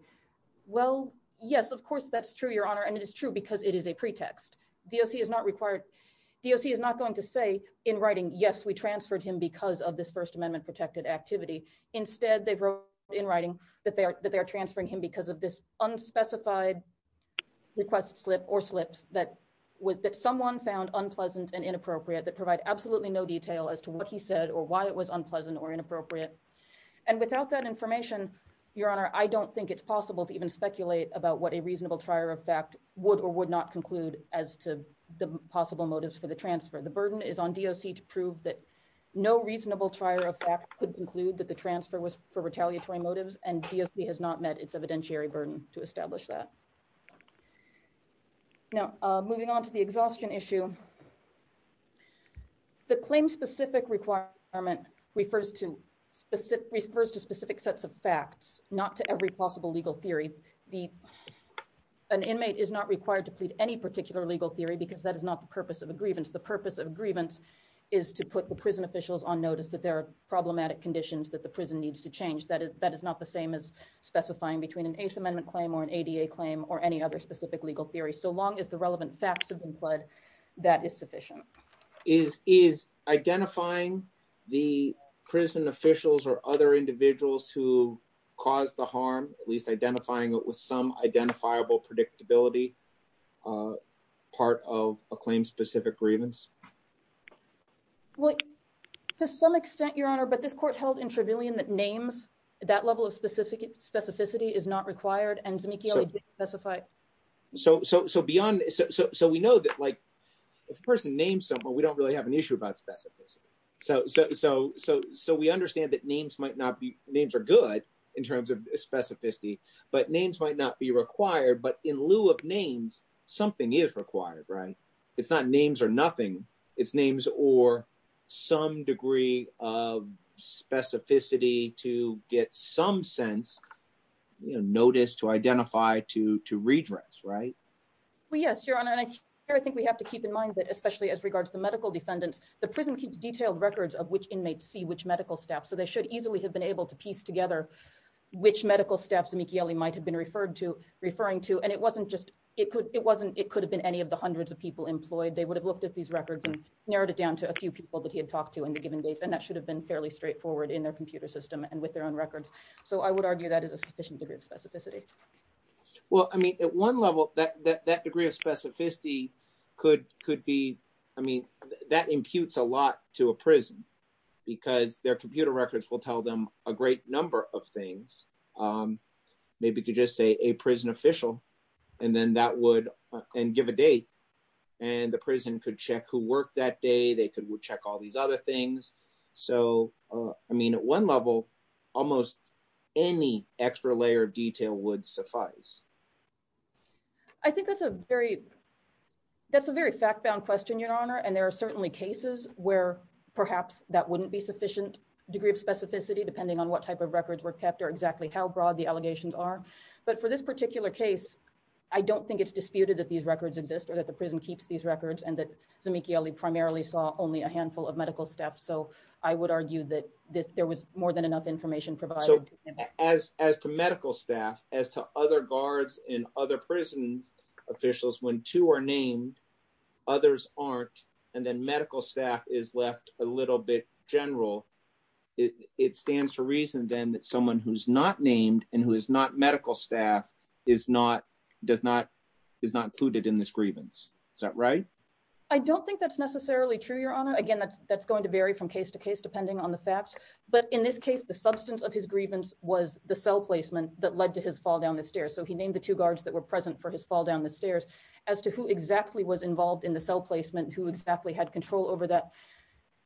Well, yes, of course that's true, Your Honor, and it is true because it is a pretext. DOC is not going to say in writing, yes, we transferred him because of this First Amendment-protected activity. Instead, they wrote in writing that they are transferring him because of this unspecified request slip or slips that someone found unpleasant and inappropriate that provide absolutely no detail as to what he said or why it was unpleasant or inappropriate. And without that information, Your Honor, I don't think it's possible to even speculate about what a reasonable trier of fact would or would not conclude as to the possible motives for the transfer. The burden is on DOC to prove that no reasonable trier of fact could conclude that the transfer was for retaliatory motives, and DOC has not met its evidentiary burden to establish that. Now, moving on to the exhaustion issue, the claim-specific requirement refers to specific sets of facts, not to every possible legal theory. An inmate is not required to plead any particular legal theory because that is not the purpose of a grievance. The purpose of a grievance is to put the prison officials on notice that there are problematic conditions that the prison needs to change. That is not the same as specifying between an Ace Amendment claim or an ADA claim or any other specific legal theory, so long as the relevant facts have been fled, that is sufficient. Is identifying the prison officials or other individuals who caused the harm, at least identifying it with some identifiable predictability, part of a claim-specific grievance? Well, to some extent, Your Honor, but this court held in Trevelyan that names, that level of specificity, is not required and Zemeckiyo is not specified. So beyond – so we know that, like, if a person names someone, we don't really have an issue about specificity. So we understand that names might not be – names are good in terms of specificity, but names might not be required. But in lieu of names, something is required, right? It's not names or nothing. It's names or some degree of specificity to get some sense, you know, notice, to identify, to redress, right? Well, yes, Your Honor. I think we have to keep in mind that, especially as regards to medical defendants, the prison keeps detailed records of which inmates see which medical staff. So they should easily have been able to piece together which medical staff Zemeckiyo might have been referring to. And it wasn't just – it wasn't – it could have been any of the hundreds of people employed. They would have looked at these records and narrowed it down to a few people that he had talked to on a given day. And that should have been fairly straightforward in their computer system and with their own records. So I would argue that is a sufficient degree of specificity. Well, I mean, at one level, that degree of specificity could be – I mean, that imputes a lot to a prison because their computer records will tell them a great number of things. Maybe you could just say a prison official and then that would – and give a date. And the prison could check who worked that day. They could check all these other things. So, I mean, at one level, almost any extra layer of detail would suffice. I think that's a very – that's a very fact-bound question, Your Honor. And there are certainly cases where perhaps that wouldn't be sufficient degree of specificity depending on what type of records were kept or exactly how broad the allegations are. But for this particular case, I don't think it's disputed that these records exist or that the prison keeps these records and that Zemeckiyo primarily saw only a handful of medical staff. So I would argue that there was more than enough information provided. As to medical staff, as to other guards and other prison officials, when two are named, others aren't, and then medical staff is left a little bit general, it stands to reason, then, that someone who's not named and who is not medical staff is not included in this grievance. Is that right? I don't think that's necessarily true, Your Honor. Again, that's going to vary from case to case depending on the facts. But in this case, the substance of his grievance was the cell placement that led to his fall down the stairs. So he named the two guards that were present for his fall down the stairs. As to who exactly was involved in the cell placement, who exactly had control over that,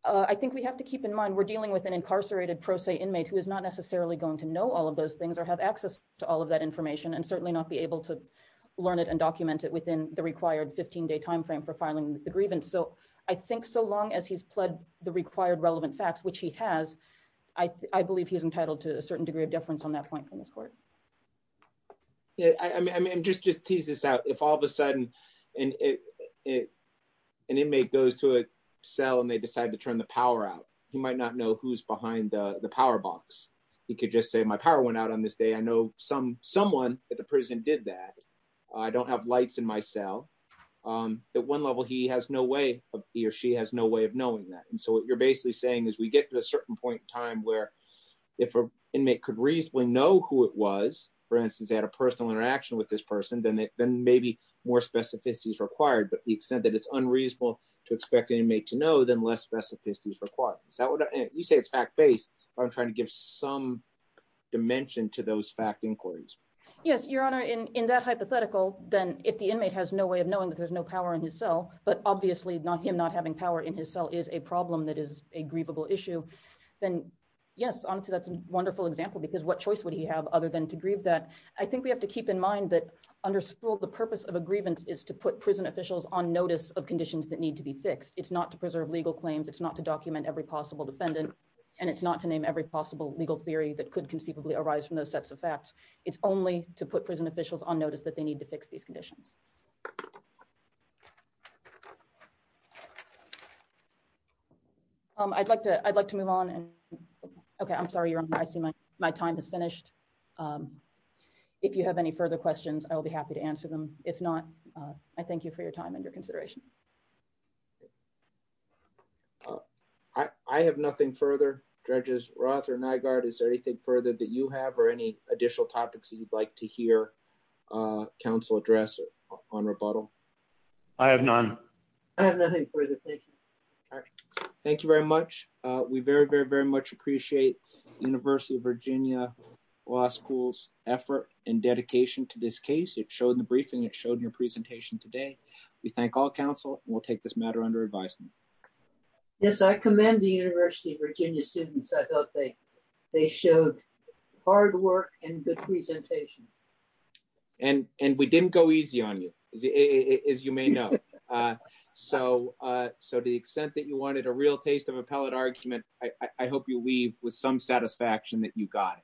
I think we have to keep in mind we're dealing with an incarcerated pro se inmate who is not necessarily going to know all of those things or have access to all of that information and certainly not be able to learn it and document it within the required 15-day timeframe for filing the grievance. So I think so long as he's pled the required relevant facts, which he has, I believe he's entitled to a certain degree of deference on that point from this court. I mean, just to tease this out, if all of a sudden an inmate goes to a cell and they decide to turn the power out, he might not know who's behind the power box. He could just say, my power went out on this day. I know someone at the prison did that. I don't have lights in my cell. At one level, he or she has no way of knowing that. And so what you're basically saying is we get to a certain point in time where if an inmate could reasonably know who it was, for instance, they had a personal interaction with this person, then maybe more specificity is required. But the extent that it's unreasonable to expect an inmate to know, then less specificity is required. We say it's fact-based, but I'm trying to give some dimension to those fact inquiries. Yes, Your Honor, in that hypothetical, then if the inmate has no way of knowing that there's no power in his cell, but obviously him not having power in his cell is a problem that is a grievable issue, then yes, honestly, that's a wonderful example, because what choice would he have other than to grieve that? I think we have to keep in mind that under school, the purpose of a grievance is to put prison officials on notice of conditions that need to be fixed. It's not to preserve legal claims, it's not to document every possible defendant, and it's not to name every possible legal theory that could conceivably arise from those sets of facts. It's only to put prison officials on notice that they need to fix these conditions. I'd like to move on. Okay, I'm sorry, Your Honor, I see my time has finished. If you have any further questions, I will be happy to answer them. If not, I thank you for your time and your consideration. I have nothing further. Judges Roth or Nygaard, is there anything further that you have or any additional topics that you'd like to hear counsel address on rebuttal? I have none. I have nothing further to say. Thank you very much. We very, very, very much appreciate the University of Virginia Law School's effort and dedication to this case. It showed in the briefing, it showed in your presentation today. We thank all counsel, and we'll take this matter under advisement. Yes, I commend the University of Virginia students. I thought they showed hard work and good presentation. And we didn't go easy on you, as you may know. So, to the extent that you wanted a real taste of appellate argument, I hope you leave with some satisfaction that you got.